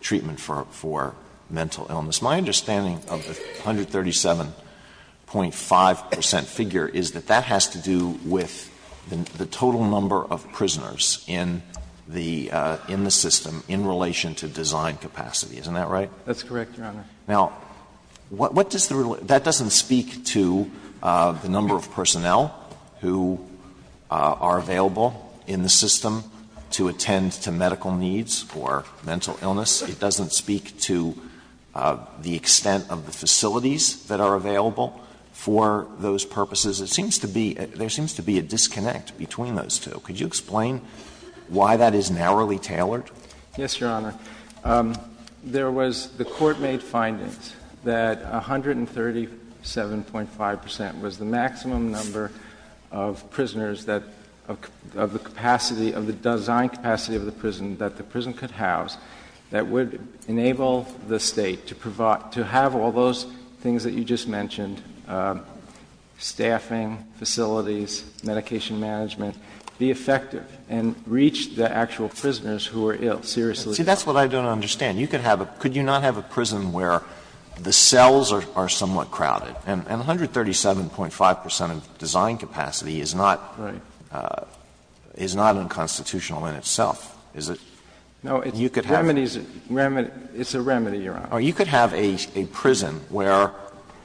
treatment for mental illness? My understanding of the 137.5% figure is that that has to do with the total number of prisoners in the system in relation to design capacity. Isn't that right? That's correct, Your Honor. Now, that doesn't speak to the number of personnel who are available in the system to attend to medical needs or mental illness. It doesn't speak to the extent of the facilities that are available for those purposes. There seems to be a disconnect between those two. Could you explain why that is narrowly tailored? Yes, Your Honor. There was the court-made finding that 137.5% was the maximum number of prisoners of the design capacity of the prison that the prison could house that would enable the State to have all those things that you just mentioned, staffing, facilities, medication management, be effective and reach the actual prisoners who are ill seriously. See, that's what I don't understand. Could you not have a prison where the cells are somewhat crowded? And 137.5% of design capacity is not unconstitutional in itself. No, it's a remedy, Your Honor. Or you could have a prison where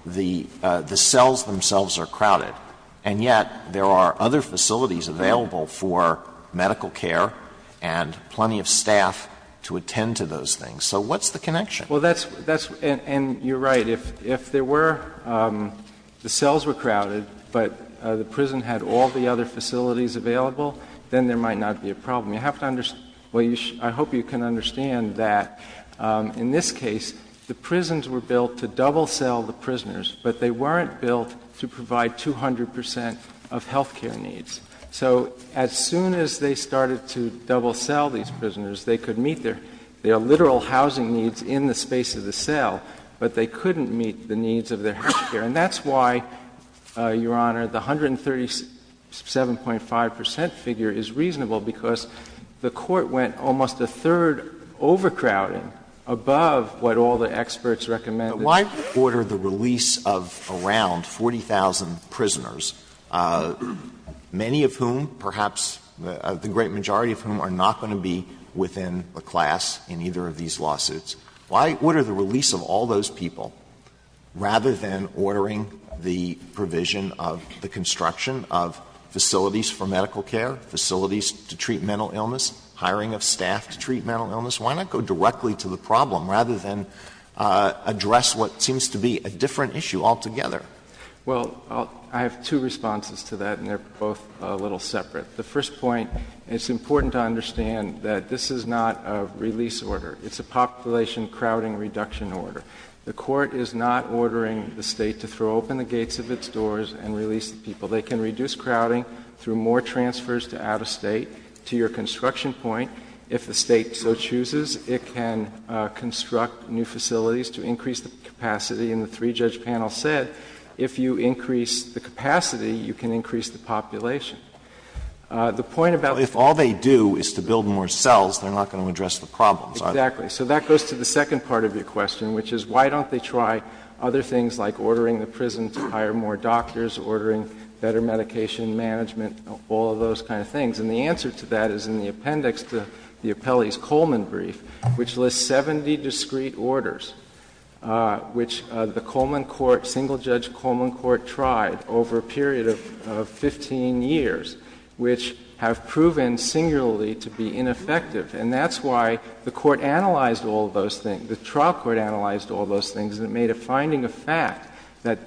the cells themselves are crowded and yet there are other facilities available for medical care and plenty of staff to attend to those things. So what's the connection? And you're right. If the cells were crowded but the prison had all the other facilities available, then there might not be a problem. I hope you can understand that. In this case, the prisons were built to double-cell the prisoners, but they weren't built to provide 200% of health care needs. So as soon as they started to double-cell these prisoners, they could meet their literal housing needs in the space of the cell, but they couldn't meet the needs of the health care, and that's why, Your Honor, the 137.5% figure is reasonable because the court went almost a third overcrowding above what all the experts recommended. Why order the release of around 40,000 prisoners, many of whom, perhaps the great majority of whom, are not going to be within a class in either of these lawsuits? Why order the release of all those people rather than ordering the provision of the construction of facilities for medical care, facilities to treat mental illness, hiring of staff to treat mental illness? Why not go directly to the problem rather than address what seems to be a different issue altogether? Well, I have two responses to that, and they're both a little separate. The first point, it's important to understand that this is not a release order. It's a population crowding reduction order. The court is not ordering the state to throw open the gates of its doors and release the people. They can reduce crowding through more transfers to out-of-state. To your construction point, if the state so chooses, it can construct new facilities to increase the capacity, and the three-judge panel said if you increase the capacity, you can increase the population. The point about if all they do is to build more cells, they're not going to address the problem. Exactly. So that goes to the second part of your question, which is why don't they try other things like ordering the prison to hire more doctors, ordering better medication management, all of those kind of things. And the answer to that is in the appendix to the appellee's Coleman brief, which lists 70 discrete orders, which the Coleman court, single-judge Coleman court, tried over a period of 15 years, which have proven singularly to be ineffective. And that's why the court analyzed all those things, the trial court analyzed all those things, and it made a finding of fact that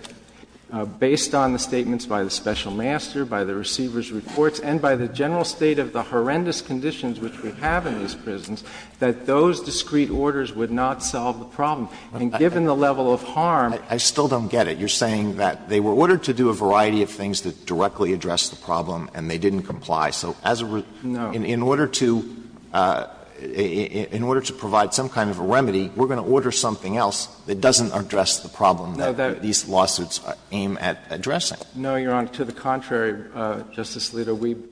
based on the statements by the special master, by the receiver's reports, and by the general state of the horrendous conditions which we have in these prisons, that those discrete orders would not solve the problem. I mean, given the level of harm. I still don't get it. You're saying that they were ordered to do a variety of things to directly address the problem, and they didn't comply. So in order to provide some kind of a remedy, we're going to order something else that doesn't address the problem that these lawsuits aim at addressing. No, you're on to the contrary, Justice Alito.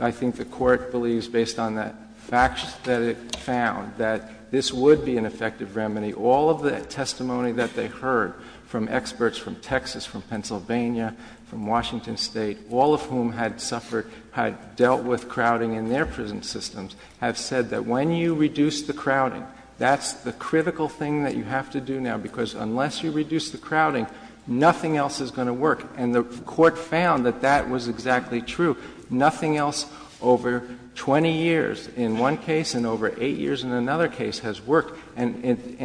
I think the court believes, based on the facts that it found, that this would be an effective remedy. All of the testimony that they heard from experts from Texas, from Pennsylvania, from Washington State, all of whom had suffered, had dealt with crowding in their prison systems, have said that when you reduce the crowding, that's the critical thing that you have to do now, because unless you reduce the crowding, nothing else is going to work. And the court found that that was exactly true. Nothing else over 20 years in one case and over 8 years in another case has worked. And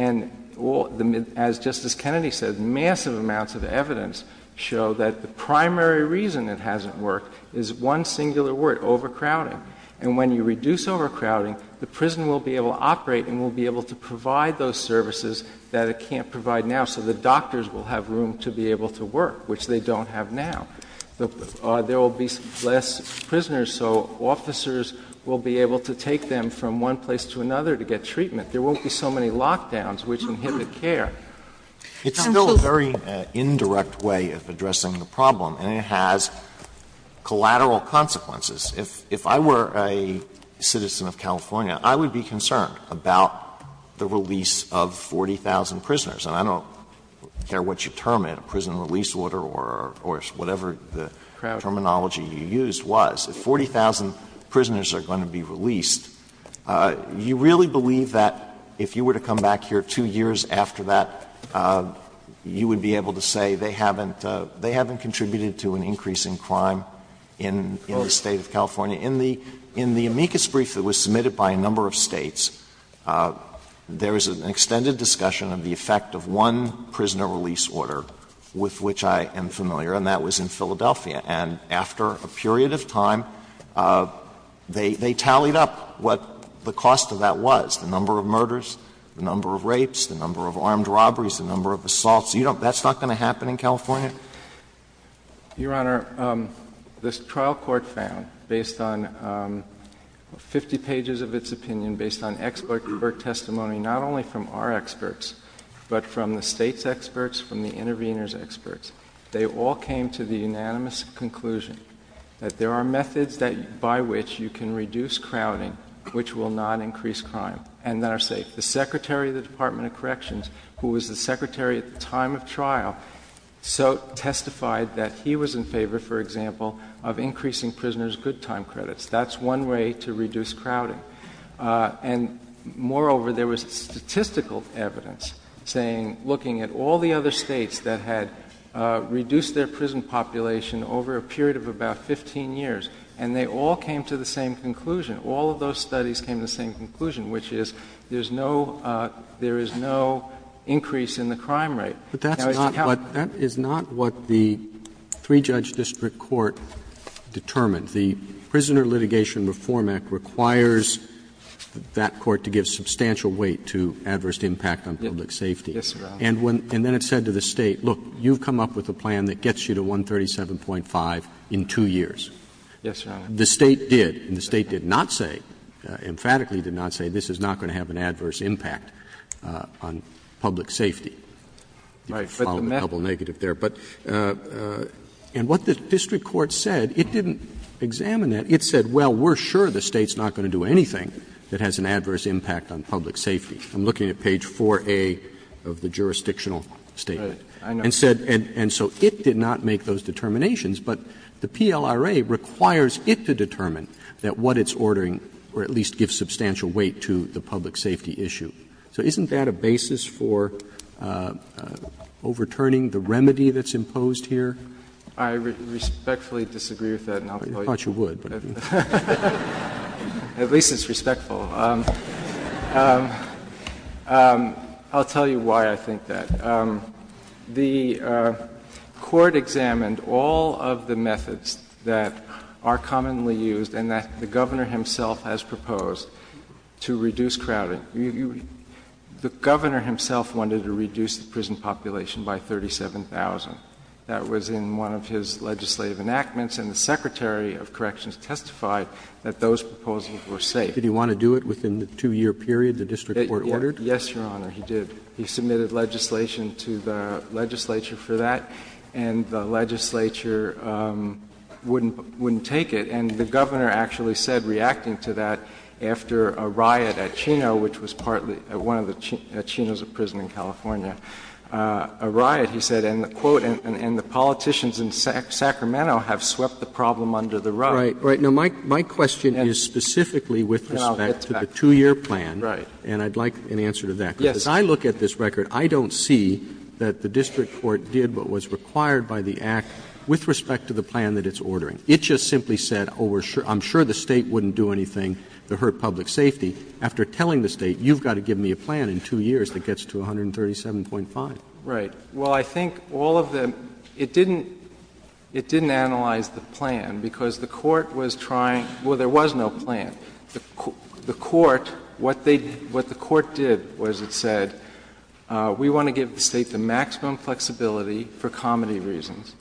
as Justice Kennedy said, massive amounts of evidence show that the primary reason it hasn't worked is one singular word, overcrowding. And when you reduce overcrowding, the prison will be able to operate and will be able to provide those services that it can't provide now, so the doctors will have room to be able to work, which they don't have now. There will be less prisoners, so officers will be able to take them from one place to another to get treatment. There won't be so many lockdowns, which inhibit care. It's still a very indirect way of addressing the problem, and it has collateral consequences. If I were a citizen of California, I would be concerned about the release of 40,000 prisoners. And I don't care what you term it, a prison release order or whatever the terminology you used was. If 40,000 prisoners are going to be released, you really believe that if you were to come back here two years after that, you would be able to say they haven't contributed to an increase in crime in the state of California? In the amicus brief that was submitted by a number of states, there was an extended discussion of the effect of one prisoner release order with which I am familiar, and that was in Philadelphia. And after a period of time, they tallied up what the cost of that was, the number of murders, the number of rapes, the number of armed robberies, the number of assaults. That's not going to happen in California? Your Honor, this trial court found, based on 50 pages of its opinion, based on expert testimony, not only from our experts, but from the state's experts, from the intervener's experts, they all came to the unanimous conclusion that there are methods by which you can reduce crowding, which will not increase crime in our state. The Secretary of the Department of Corrections, who was the Secretary at the time of trial, so testified that he was in favor, for example, of increasing prisoners' good time credits. That's one way to reduce crowding. And moreover, there was statistical evidence looking at all the other states that had reduced their prison population over a period of about 15 years, and they all came to the same conclusion. All of those studies came to the same conclusion, which is there is no increase in the crime rate. But that is not what the three-judge district court determined. The Prisoner Litigation Reform Act requires that court to give substantial weight to adverse impact on public safety. And then it said to the state, look, you come up with a plan that gets you to 137.5 in two years. Yes, Your Honor. The state did, and the state did not say, emphatically did not say, this is not going to have an adverse impact on public safety. Right. Follow the double negative there. And what the district court said, it didn't examine it. It said, well, we're sure the state's not going to do anything that has an adverse impact on public safety. I'm looking at page 4A of the jurisdictional statement. And so it did not make those determinations, but the PLRA requires it to determine that what it's ordering or at least give substantial weight to the public safety issue. So isn't that a basis for overturning the remedy that's imposed here? I respectfully disagree with that. I thought you would. At least it's respectful. I'll tell you why I think that. The court examined all of the methods that are commonly used and that the Governor himself has proposed to reduce crowding. The Governor himself wanted to reduce the prison population by 37,000. That was in one of his legislative enactments, and the Secretary of Corrections testified that those proposals were safe. Did he want to do it within the two-year period the district court ordered? Yes, Your Honor, he did. He submitted legislation to the legislature for that, and the legislature wouldn't take it. And the Governor actually said, reacting to that, after a riot at Chino, which was one of the Chinos of prison in California, a riot, he said, and the politicians in Sacramento have swept the problem under the rug. Right. Now, my question is specifically with respect to the two-year plan, and I'd like an answer to that. Yes. Because as I look at this record, I don't see that the district court did what was required by the Act with respect to the plan that it's ordering. It just simply said, oh, I'm sure the State wouldn't do anything to hurt public safety. After telling the State, you've got to give me a plan in two years that gets to 137.5. Right. Well, I think all of them — it didn't analyze the plan because the court was trying — well, there was no plan. The court — what the court did was it said, we want to give the State the maximum flexibility, for comedy reasons,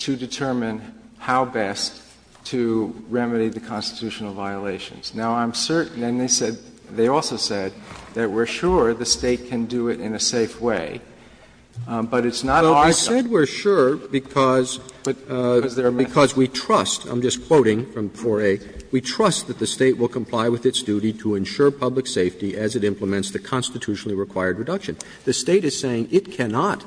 to determine how best to remedy the constitutional violations. Now, I'm certain — and they said — they also said that we're sure the State can do it in a safe way. But it's not — They said we're sure because we trust — I'm just quoting from 4A — we trust that the State will comply with its duty to ensure public safety as it implements the constitutionally required reduction. The State is saying it cannot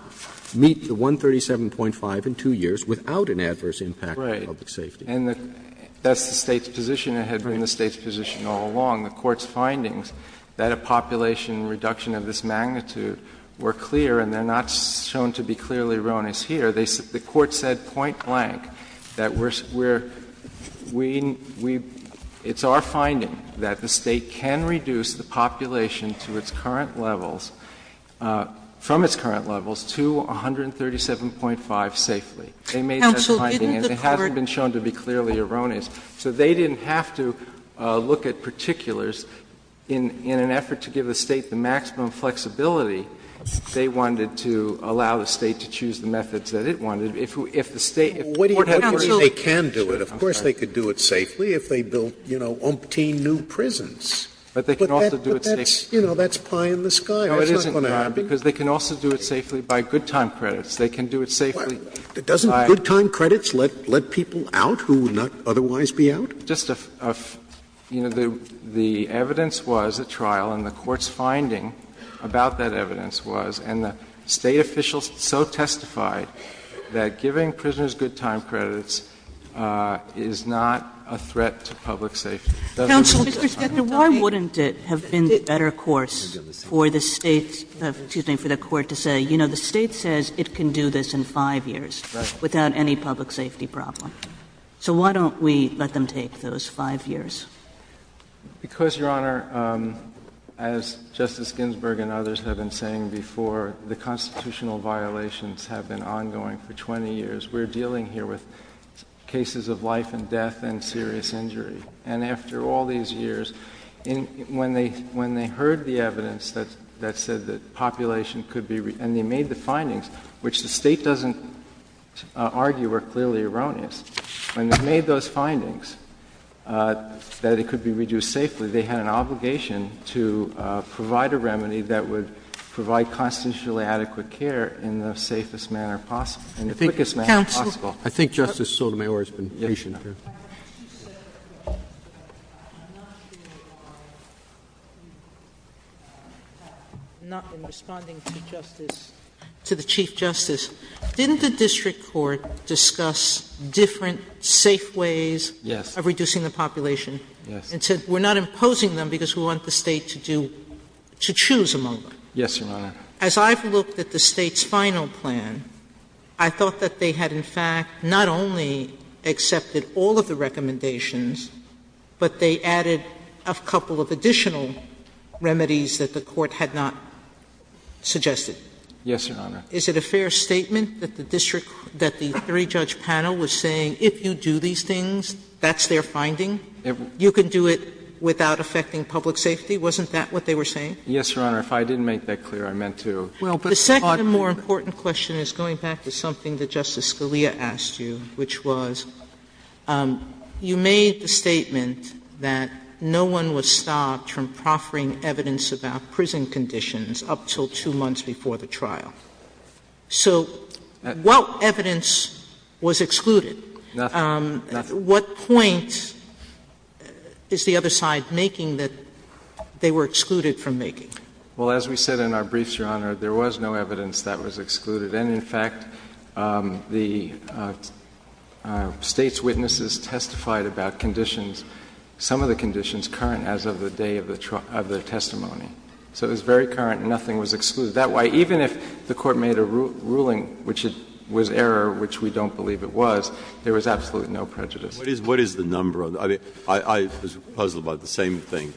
meet the 137.5 in two years without an adverse impact on public safety. Right. And that's the State's position. It had been the State's position all along. The court's findings that a population reduction of this magnitude were clear and they're not shown to be clearly erroneous here. The court said point-blank that we're — it's our finding that the State can reduce the population to its current levels — from its current levels to 137.5 safely. They made that finding. Counsel, isn't the court — It hasn't been shown to be clearly erroneous. So they didn't have to look at particulars. In an effort to give the State the maximum flexibility, they wanted to allow the State to choose the methods that it wanted. If the State — They can do it. Of course they could do it safely if they built, you know, umpteen new prisons. But they can also do it safely — But that's pie in the sky. That's not going to happen. No, it isn't, because they can also do it safely by good time credits. They can do it safely — Doesn't good time credits let people out who would not otherwise be out? Just a — you know, the evidence was, the trial and the court's finding about that evidence was, and the State officials so testified that giving prisoners good time credits is not a threat to public safety. Counsel, why wouldn't it have been better, of course, for the State — excuse me, for the court to say, you know, the State says it can do this in five years? Right. Without any public safety problem. So why don't we let them take those five years? Because, Your Honor, as Justice Ginsburg and others have been saying before, the constitutional violations have been ongoing for 20 years. We're dealing here with cases of life and death and serious injury. And after all these years, when they heard the evidence that said that population could be — and they made the findings, which the State doesn't argue are clearly erroneous. When they made those findings, that it could be reduced safely, they had an obligation to provide a remedy that would provide constitutionally adequate care in the safest manner possible — in the quickest manner possible. I think Justice Sotomayor has been patient here. Not in responding to the Chief Justice. Didn't the district court discuss different safe ways of reducing the population? Yes. And said, we're not imposing them because we want the State to do — to choose among them. Yes, Your Honor. As I've looked at the State's final plan, I thought that they had, in fact, not only accepted all of the recommendations, but they added a couple of additional remedies that the court had not suggested. Yes, Your Honor. Is it a fair statement that the district — that the three-judge panel was saying, if you do these things, that's their finding? Never. You could do it without affecting public safety? Wasn't that what they were saying? Yes, Your Honor. If I didn't make that clear, I meant to. Well, the second and more important question is going back to something that Justice Scalia asked you, which was, you made the statement that no one was stopped from offering evidence about prison conditions up until two months before the trial. So what evidence was excluded? Nothing. Nothing. What point is the other side making that they were excluded from making? Well, as we said in our briefs, Your Honor, there was no evidence that was excluded. And, in fact, the State's witnesses testified about conditions — some of the conditions current as of the day of the testimony. So it was very current. Nothing was excluded. Well, then, in my view, the other side of the coin, as I said, had to be a little more restrictive. Is that why, even if the Court made a ruling which was error, which we don't believe it was, there was absolutely no prejudice? What is the number of — I was puzzled about the same thing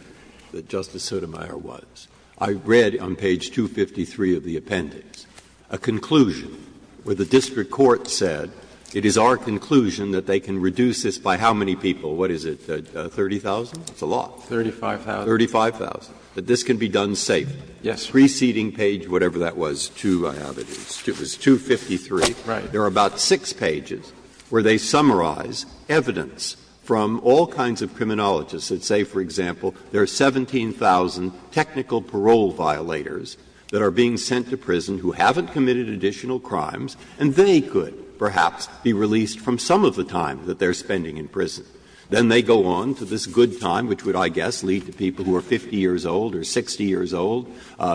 that Justice Sotomayor was. I read on page 253 of the appendix a conclusion where the district court said it is our conclusion that they can reduce this by how many people? What is it, 30,000? That's a lot. Thirty-five thousand. Thirty-five thousand. That this can be done safely. Yes. Preceding page whatever that was, 253. Right. There are about six pages where they summarize evidence from all kinds of criminologists that say, for example, there are 17,000 technical parole violators that are being sent to prison who haven't committed additional crimes, and they could perhaps be released from some of the time that they're spending in prison. Then they go on to this good time, which would, I guess, lead to people who are 50 years old or 60 years old,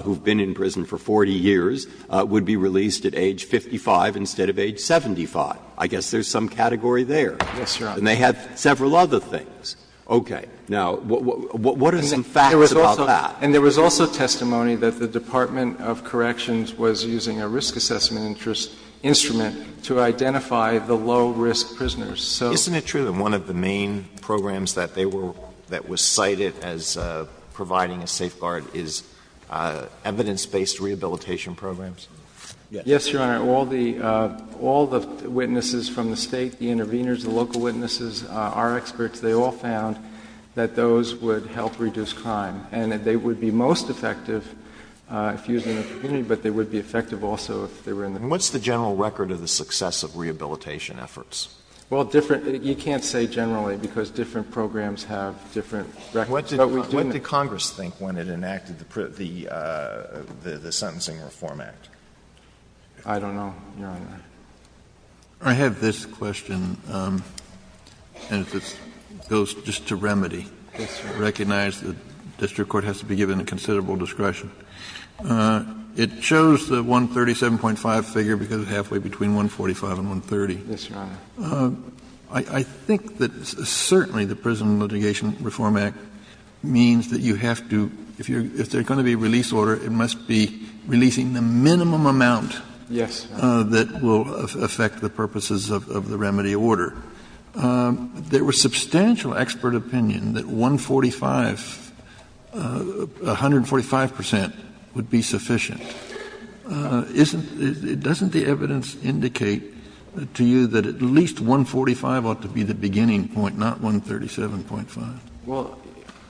who've been in prison for 40 years, would be released at age 55 instead of age 75. I guess there's some category there. Yes, Your Honor. And they had several other things. Okay. Now, what are some facts about that? And there was also testimony that the Department of Corrections was using a risk assessment instrument to identify the low-risk prisoners. Isn't it true that one of the main programs that was cited as providing a safeguard is evidence-based rehabilitation programs? Yes, Your Honor. All the witnesses from the State, the intervenors, the local witnesses, our experts, they all found that those would help reduce crime and that they would be most effective if used in a community, but they would be effective also if they were in the community. And what's the general record of the success of rehabilitation efforts? Well, you can't say generally because different programs have different records. What did Congress think when it enacted the Sentencing Reform Act? I don't know, Your Honor. I have this question, and it goes just to remedy. Recognize the district court has to be given considerable discretion. It shows the 137.5 figure because it's halfway between 145 and 130. That's right. I think that certainly the Prison Litigation Reform Act means that you have to, if there's going to be a release order, it must be releasing the minimum amount that will affect the purposes of the remedy order. There was substantial expert opinion that 145, 145 percent, would be sufficient. Doesn't the evidence indicate to you that at least 145 ought to be the beginning point, not 137.5?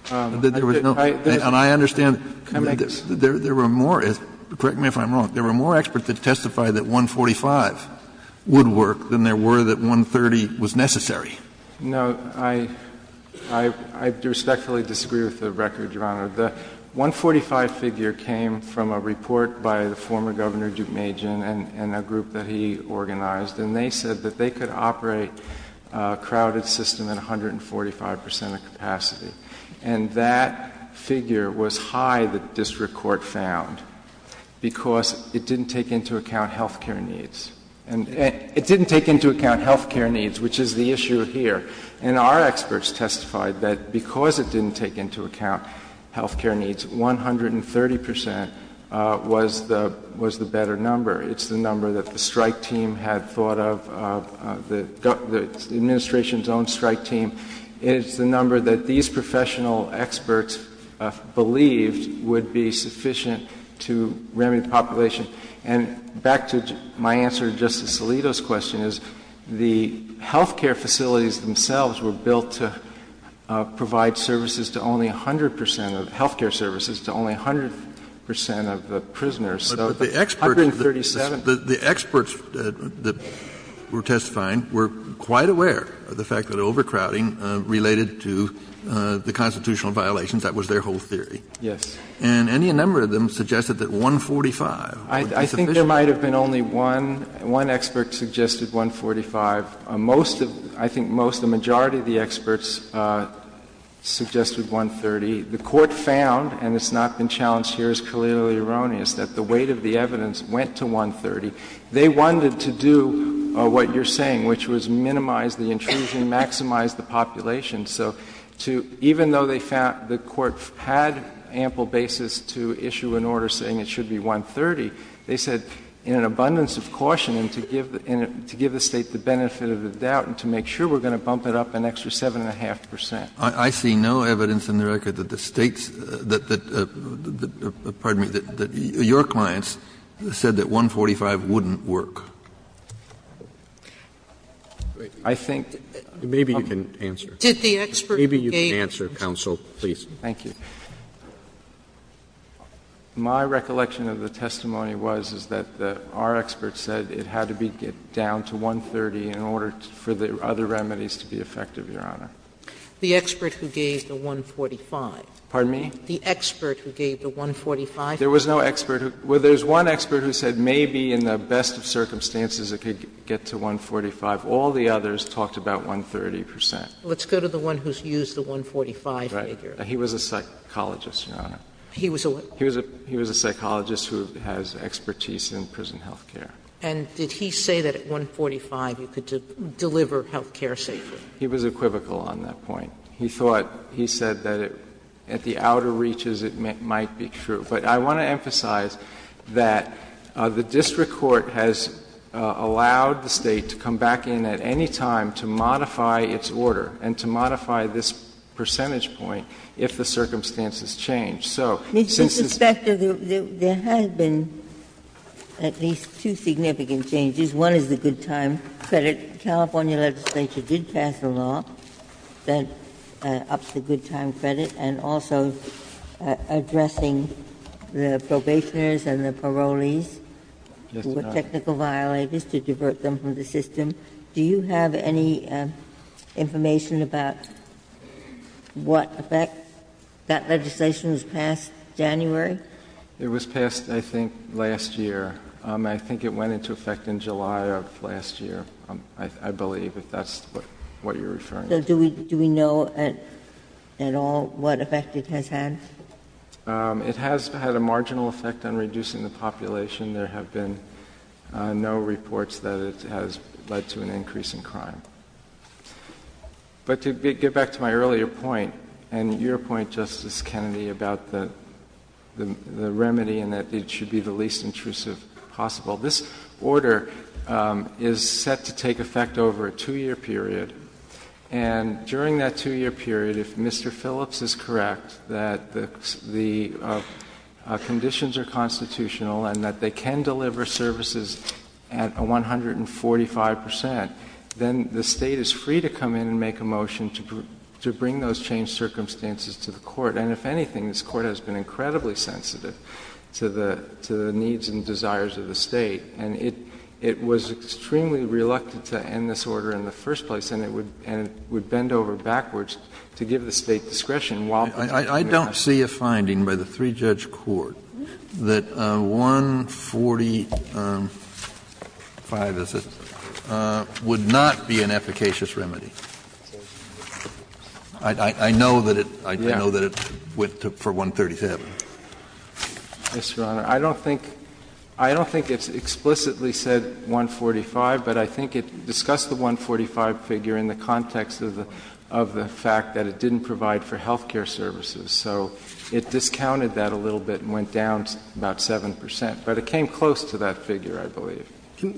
And I understand there were more, correct me if I'm wrong, there were more experts that testified that 145 would work than there were that 130 was necessary. No, I respectfully disagree with the record, Your Honor. The 145 figure came from a report by the former governor, Duke Majan, and a group that he organized, and they said that they could operate a crowded system at 145 percent of capacity. And that figure was high that the district court found because it didn't take into account health care needs. And it didn't take into account health care needs, which is the issue here. And our experts testified that because it didn't take into account health care needs, 130 percent was the better number. It's the number that the strike team had thought of, the administration's own strike team. It's the number that these professional experts believed would be sufficient to remedy the population. And back to my answer to Justice Alito's question is, the health care facilities themselves were built to provide services to only 100 percent, health care services to only 100 percent of the prisoners. But the experts that were testifying were quite aware of the fact that overcrowding related to the constitutional violations. That was their whole theory. Yes. And any number of them suggested that 145 would be sufficient. I think there might have been only one expert who suggested 145. I think most, the majority of the experts, suggested 130. The Court found, and it's not been challenged here as clearly erroneous, that the weight of the evidence went to 130. They wanted to do what you're saying, which was minimize the intrusion, maximize the population. So even though the Court had ample basis to issue an order saying it should be 130, they said in an abundance of caution and to give the State the benefit of the doubt and to make sure, we're going to bump it up an extra 7.5 percent. I see no evidence in the record that the State's, that, pardon me, that your clients said that 145 wouldn't work. I think. Maybe you can answer. Did the experts say. Maybe you can answer, counsel, please. Thank you. My recollection of the testimony was that our experts said it had to be down to 130 in order for the other remedies to be effective, Your Honor. The expert who gave the 145. Pardon me? The expert who gave the 145. There was no expert. Well, there's one expert who said maybe in the best of circumstances it could get to 145. All the others talked about 130 percent. Let's go to the one who's used the 145 figure. Right. He was a psychologist, Your Honor. He was a what? He was a psychologist who has expertise in prison health care. And did he say that at 145 you could deliver health care safely? He was equivocal on that point. He thought, he said that at the outer reaches it might be true. But I want to emphasize that the district court has allowed the State to come back in at any time to modify its order and to modify this percentage point if the circumstances change. Mr. Suspect, there has been at least two significant changes. One is the good time credit. The California legislature did pass a law that ups the good time credit and also addressing the probationers and the parolees who were technical violators to divert them from the system. Do you have any information about what effect that legislation was passed January? It was passed, I think, last year. I think it went into effect in July of last year, I believe, if that's what you're referring to. So do we know at all what effect it has had? It has had a marginal effect on reducing the population. There have been no reports that it has led to an increase in crime. But to get back to my earlier point and your point, Justice Kennedy, about the remedy and that it should be the least intrusive possible, this order is set to take effect over a two-year period. And during that two-year period, if Mr. Phillips is correct that the conditions are constitutional and that they can deliver services at 145 percent, then the State is free to come in and make a motion to bring those changed circumstances to the court. And if anything, this Court has been incredibly sensitive to the needs and desires of the State. And it was extremely reluctant to end this order in the first place and would bend over backwards to give the State discretion while bringing it to pass. I don't see a finding by the three-judge court that 145 assistance would not be an efficacious remedy. I know that it went for 137. Yes, Your Honor. I don't think it's explicitly said 145, but I think it discussed the 145 figure in the context of the fact that it didn't provide for health care services. So it discounted that a little bit and went down about 7 percent. But it came close to that figure, I believe.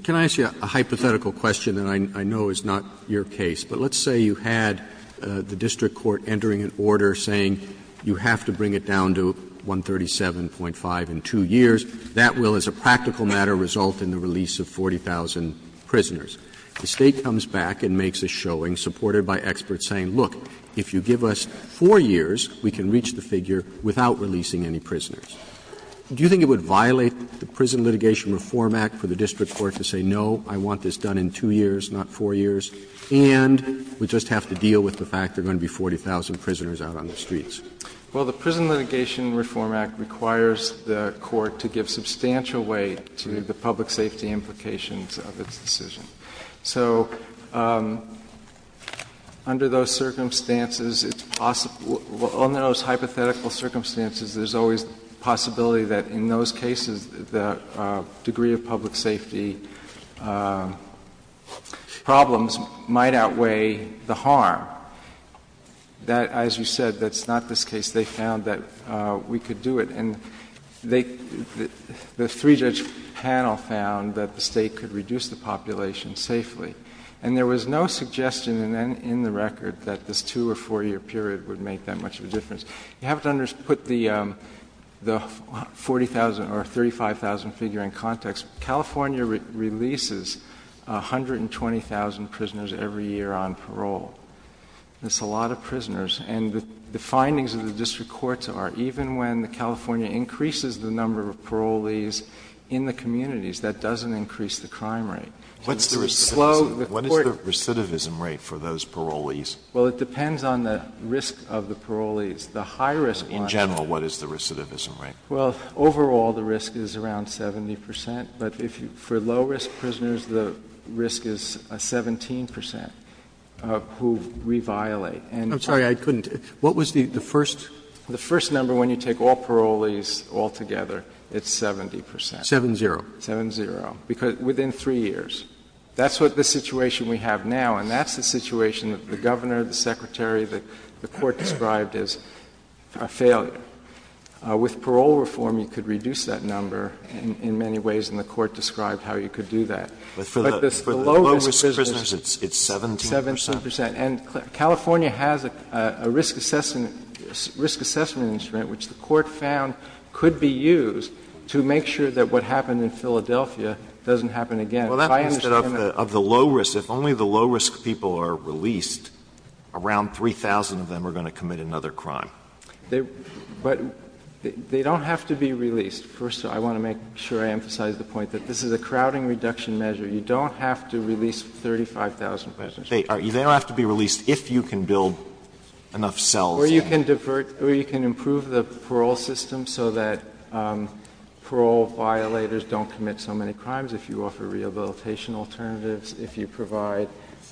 Can I ask you a hypothetical question that I know is not your case? But let's say you had the district court entering an order saying you have to bring it down to 137.5 in two years. That will, as a practical matter, result in the release of 40,000 prisoners. The State comes back and makes a showing supported by experts saying, look, if you give us four years, we can reach the figure without releasing any prisoners. Do you think it would violate the Prison Litigation Reform Act for the district court to say, no, I want this done in two years, not four years? And we just have to deal with the fact there are going to be 40,000 prisoners out on the streets. Well, the Prison Litigation Reform Act requires the court to give substantial weight to the public safety implications of its decision. So under those circumstances, under those hypothetical circumstances, there's always the possibility that in those cases the degree of public safety problems might outweigh the harm. As you said, that's not this case. They found that we could do it. And the three-judge panel found that the State could reduce the population safely. And there was no suggestion in the record that this two- or four-year period would make that much of a difference. You have to put the 40,000 or 35,000 figure in context. California releases 120,000 prisoners every year on parole. That's a lot of prisoners. And the findings of the district courts are even when California increases the number of parolees in the communities, that doesn't increase the crime rate. What's the recidivism rate for those parolees? Well, it depends on the risk of the parolees. The high risk — In general, what is the recidivism rate? Well, overall, the risk is around 70 percent. But for low-risk prisoners, the risk is 17 percent who we violate. I'm sorry, I couldn't — what was the first — The first number when you take all parolees all together, it's 70 percent. Seven-zero. Seven-zero. Because within three years. That's what the situation we have now, and that's the situation that the governor, the secretary, the court described as a failure. With parole reform, you could reduce that number in many ways, and the court described how you could do that. But for the low-risk prisoners, it's 17 percent? 17 percent. And California has a risk assessment instrument, which the court found could be used to make sure that what happened in Philadelphia doesn't happen again. Well, that's because of the low risk. If only the low-risk people are released, around 3,000 of them are going to commit another crime. But they don't have to be released. First, I want to make sure I emphasize the point that this is a crowding reduction measure. You don't have to release 35,000 prisoners. They don't have to be released if you can build enough cells. Or you can improve the parole system so that parole violators don't commit so many crimes if you offer rehabilitation alternatives, if you provide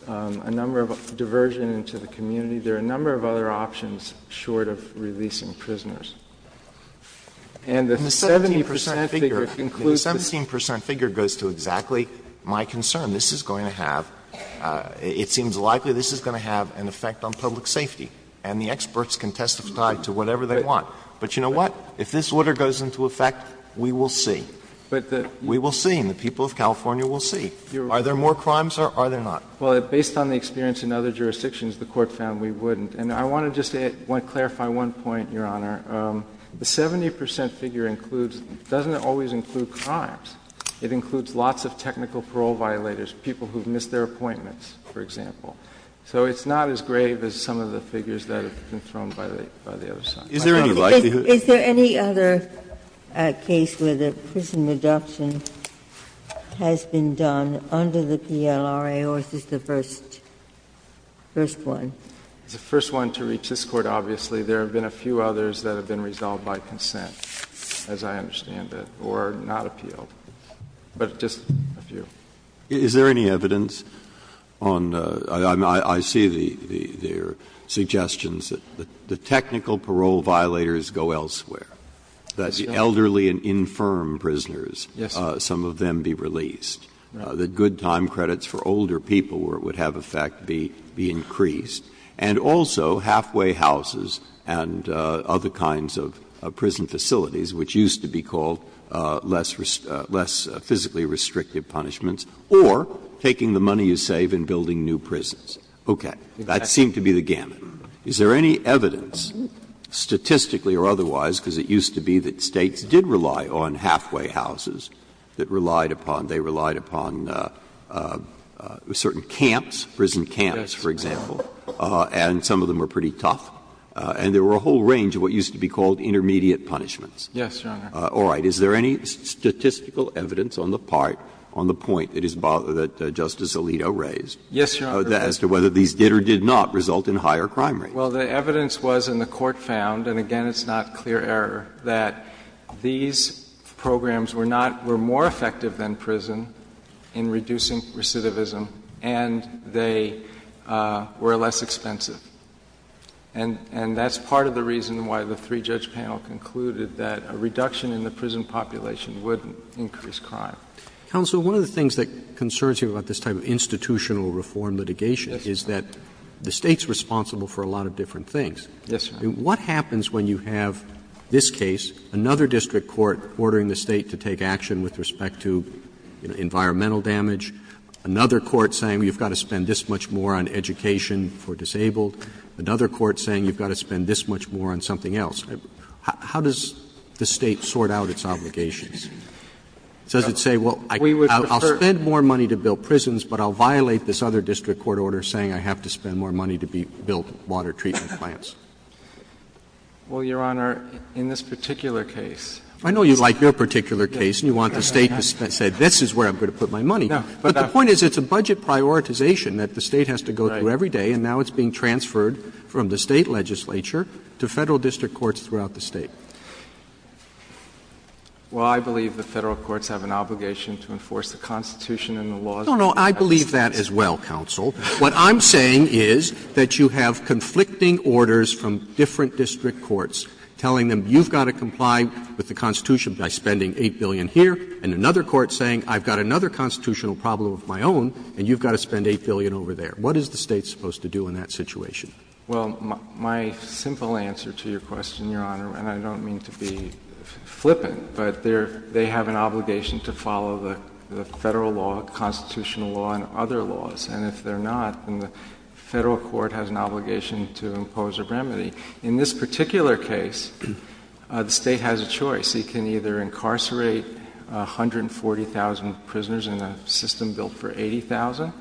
a number of diversion into the community. There are a number of other options short of releasing prisoners. And the 17 percent figure goes to exactly my concern. This is going to have, it seems likely this is going to have an effect on public safety. And the experts can testify to whatever they want. But you know what? If this order goes into effect, we will see. We will see. And the people of California will see. Are there more crimes or are there not? Well, based on the experience in other jurisdictions, the court found we wouldn't. And I want to just say, I want to clarify one point, Your Honor. The 70 percent figure includes, doesn't it always include crimes? It includes lots of technical parole violators, people who've missed their appointments, for example. So it's not as grave as some of the figures that have been thrown by the other side. Is there any likelihood? Is there any other case where the prison reduction has been done under the PLRA or is this the first one? The first one to reach this Court, obviously. There have been a few others that have been resolved by consent, as I understand it, or not appealed. But just a few. Is there any evidence on the – I see the suggestions that the technical parole violators go elsewhere, that the elderly and infirm prisoners, some of them be released, that good time credits for older people where it would have effect be increased, and also halfway houses and other kinds of prison facilities, which used to be called less physically restrictive punishments, or taking the money you save and building new prisons? Okay. That seemed to be the gamut. Is there any evidence, statistically or otherwise, because it used to be that states did rely on halfway houses that relied upon – and some of them were pretty tough, and there were a whole range of what used to be called intermediate punishments. Yes, Your Honor. All right. Is there any statistical evidence on the part, on the point that Justice Alito raised, Yes, Your Honor. as to whether these did or did not result in higher crime rates? Well, the evidence was, and the Court found, and again it's not clear error, that these programs were not – were more effective than prison in reducing recidivism, and they were less expensive. And that's part of the reason why the three-judge panel concluded that a reduction in the prison population would increase crime. Counsel, one of the things that concerns you about this type of institutional reform litigation is that the state's responsible for a lot of different things. Yes, Your Honor. What happens when you have this case, another district court ordering the state to take action with respect to environmental damage, another court saying you've got to spend this much more on education for disabled, another court saying you've got to spend this much more on something else? How does the state sort out its obligations? Does it say, well, I'll spend more money to build prisons, but I'll violate this other district court order saying I have to spend more money to build water treatment plants? Well, Your Honor, in this particular case, I know you like your particular case, and you want the state to say this is where I'm going to put my money. But the point is it's a budget prioritization that the state has to go through every day, and now it's being transferred from the state legislature to federal district courts throughout the state. Well, I believe the federal courts have an obligation to enforce the Constitution and the laws. No, no, I believe that as well, Counsel. What I'm saying is that you have conflicting orders from different district courts telling them you've got to comply with the Constitution by spending $8 billion here and another court saying I've got another constitutional problem of my own and you've got to spend $8 billion over there. What is the state supposed to do in that situation? Well, my simple answer to your question, Your Honor, and I don't mean to be flippant, but they have an obligation to follow the federal law, constitutional law, and other laws. And if they're not, then the federal court has an obligation to impose a remedy. In this particular case, the state has a choice. It can either incarcerate 140,000 prisoners in a system built for 80,000,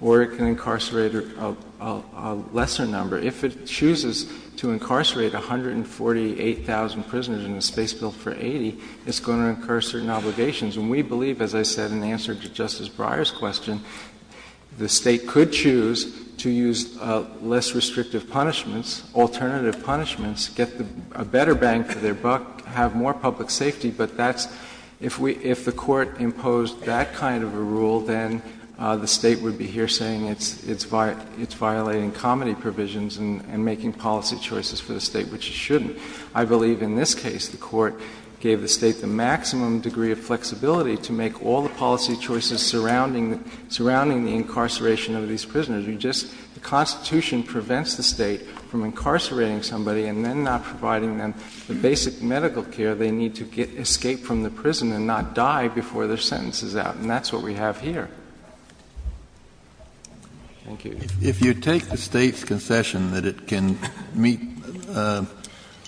or it can incarcerate a lesser number. If it chooses to incarcerate 148,000 prisoners in a space built for 80,000, it's going to incur certain obligations. And we believe, as I said in answer to Justice Breyer's question, the state could choose to use less restrictive punishments, alternative punishments, get a better bang for their buck, have more public safety, but if the court imposed that kind of a rule, then the state would be here saying it's violating comedy provisions and making policy choices for the state, which it shouldn't. I believe in this case the court gave the state the maximum degree of flexibility to make all the policy choices surrounding the incarceration of these prisoners. The Constitution prevents the state from incarcerating somebody and then not providing them the basic medical care they need to escape from the prison and not die before their sentence is out. And that's what we have here. Thank you. If you take the state's concession that it can meet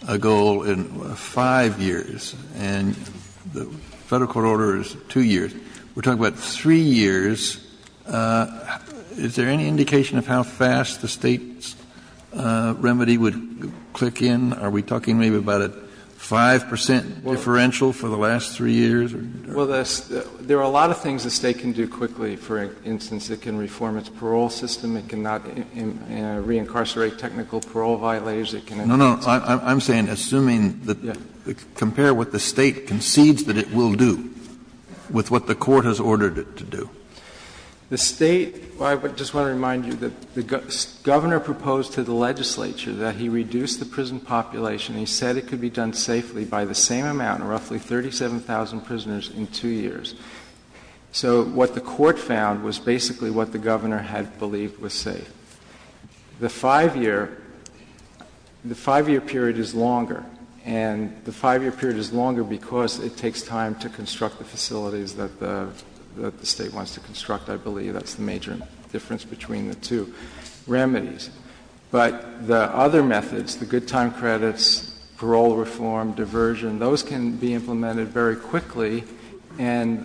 a goal in five years and the federal court order is two years, we're talking about three years. Is there any indication of how fast the state's remedy would click in? Are we talking maybe about a 5 percent differential for the last three years? Well, there are a lot of things the state can do quickly. For instance, it can reform its parole system. It cannot reincarcerate technical parole violators. No, no, I'm saying, compare what the state concedes that it will do with what the court has ordered it to do. I just want to remind you that the governor proposed to the legislature that he reduce the prison population. He said it could be done safely by the same amount, roughly 37,000 prisoners, in two years. So what the court found was basically what the governor had believed was safe. The five-year period is longer, and the five-year period is longer because it takes time to construct the facilities that the state wants to construct. I believe that's the major difference between the two remedies. But the other methods, the good time credits, parole reform, diversion, those can be implemented very quickly, and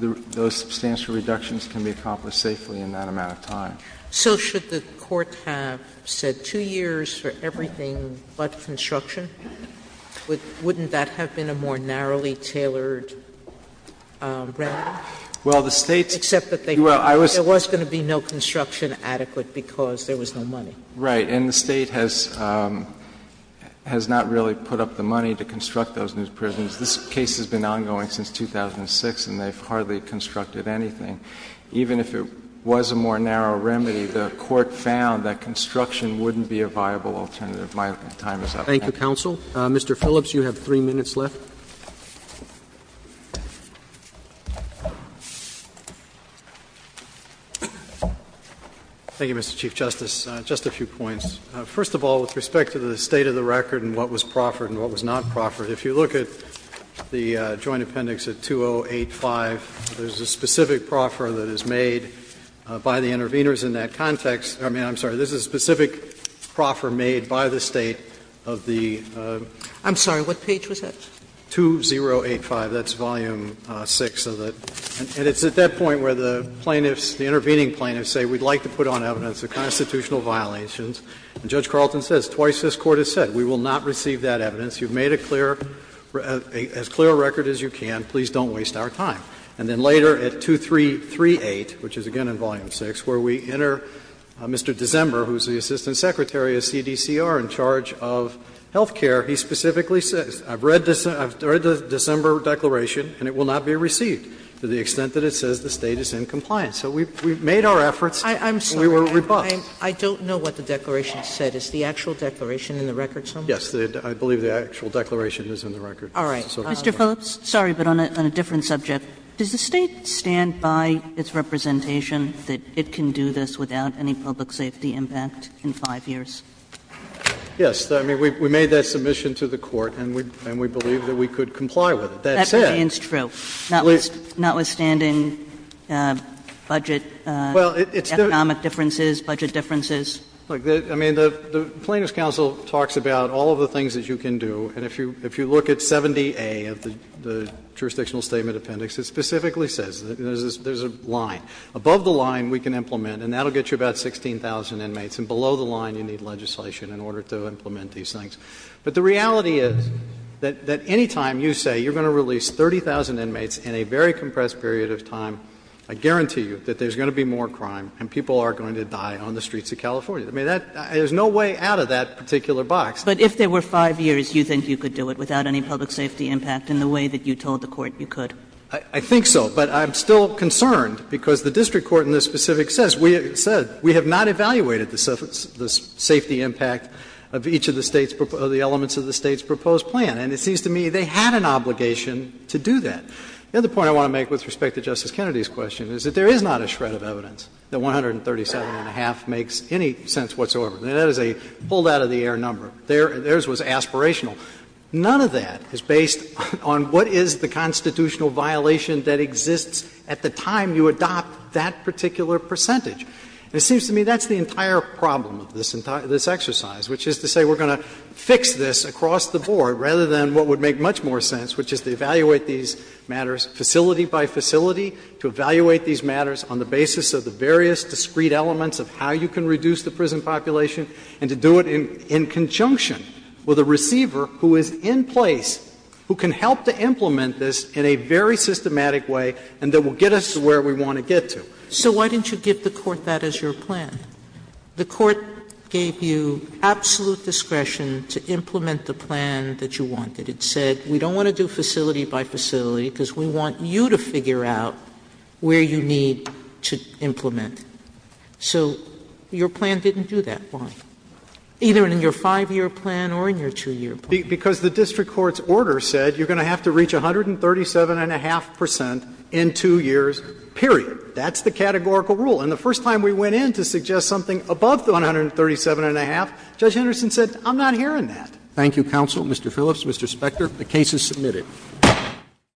those substantial reductions can be accomplished safely in that amount of time. So should the court have said two years for everything but construction? Wouldn't that have been a more narrowly tailored remedy? Except that there was going to be no construction adequate because there was no money. Right, and the state has not really put up the money to construct those new prisons. This case has been ongoing since 2006, and they've hardly constructed anything. Even if there was a more narrow remedy, the court found that construction wouldn't be a viable alternative. My time is up. Thank you, counsel. Mr. Phillips, you have three minutes left. Thank you, Mr. Chief Justice. Just a few points. First of all, with respect to the state of the record and what was proffered and what was not proffered, if you look at the Joint Appendix of 2085, there's a specific proffer that is made by the intervenors in that context. I'm sorry, there's a specific proffer made by the state of the 2085. That's Volume 6 of it. And it's at that point where the intervening plaintiffs say, we'd like to put on evidence the constitutional violations. And Judge Carlton says, twice this court has said, we will not receive that evidence. You've made as clear a record as you can. Please don't waste our time. And then later at 2338, which is again in Volume 6, where we enter Mr. Dezember, who's the Assistant Secretary of CDCR in charge of health care. He specifically says, I've read the December declaration, and it will not be received to the extent that it says the State is in compliance. So we've made our efforts. I'm sorry. We were rebuffed. I don't know what the declaration said. Is the actual declaration in the record somewhere? Yes. I believe the actual declaration is in the record. All right. Mr. Folks, sorry, but on a different subject. Does the State stand by its representation that it can do this without any public safety impact in five years? Yes. I mean, we made that submission to the court, and we believe that we could comply with it. That's it. That stands true. Notwithstanding budget, economic differences, budget differences. I mean, the Plaintiffs' Council talks about all of the things that you can do, and if you look at 70A of the jurisdictional statement appendix, it specifically says there's a line. Above the line we can implement, and that will get you about 16,000 inmates, and below the line you need legislation in order to implement these things. But the reality is that any time you say you're going to release 30,000 inmates in a very compressed period of time, I guarantee you that there's going to be more crime and people are going to die on the streets of California. I mean, there's no way out of that particular box. But if there were five years, you think you could do it without any public safety impact in the way that you told the court you could? I think so, but I'm still concerned because the district court in this specific sense, we have said we have not evaluated the safety impact of each of the elements of the State's proposed plan, and it seems to me they had an obligation to do that. The other point I want to make with respect to Justice Kennedy's question is that there is not a shred of evidence that 137.5 makes any sense whatsoever. That is a pulled-out-of-the-air number. Theirs was aspirational. None of that is based on what is the constitutional violation that exists at the time you adopt that particular percentage. It seems to me that's the entire problem of this exercise, which is to say we're going to fix this across the board rather than what would make much more sense, which is to evaluate these matters facility by facility, to evaluate these matters on the basis of the various discrete elements of how you can reduce the prison population and to do it in conjunction with a receiver who is in place, who can help to implement this in a very systematic way and that will get us to where we want to get to. So why didn't you give the court that as your plan? The court gave you absolute discretion to implement the plan that you wanted. It said we don't want to do facility by facility because we want you to figure out where you need to implement. So your plan didn't do that well, either in your five-year plan or in your two-year plan. Because the district court's order said you're going to have to reach 137.5 percent in two years, period. That's the categorical rule. And the first time we went in to suggest something above 137.5, Judge Henderson said, I'm not hearing that. Thank you, counsel. Mr. Phillips, Mr. Spector, the case is submitted.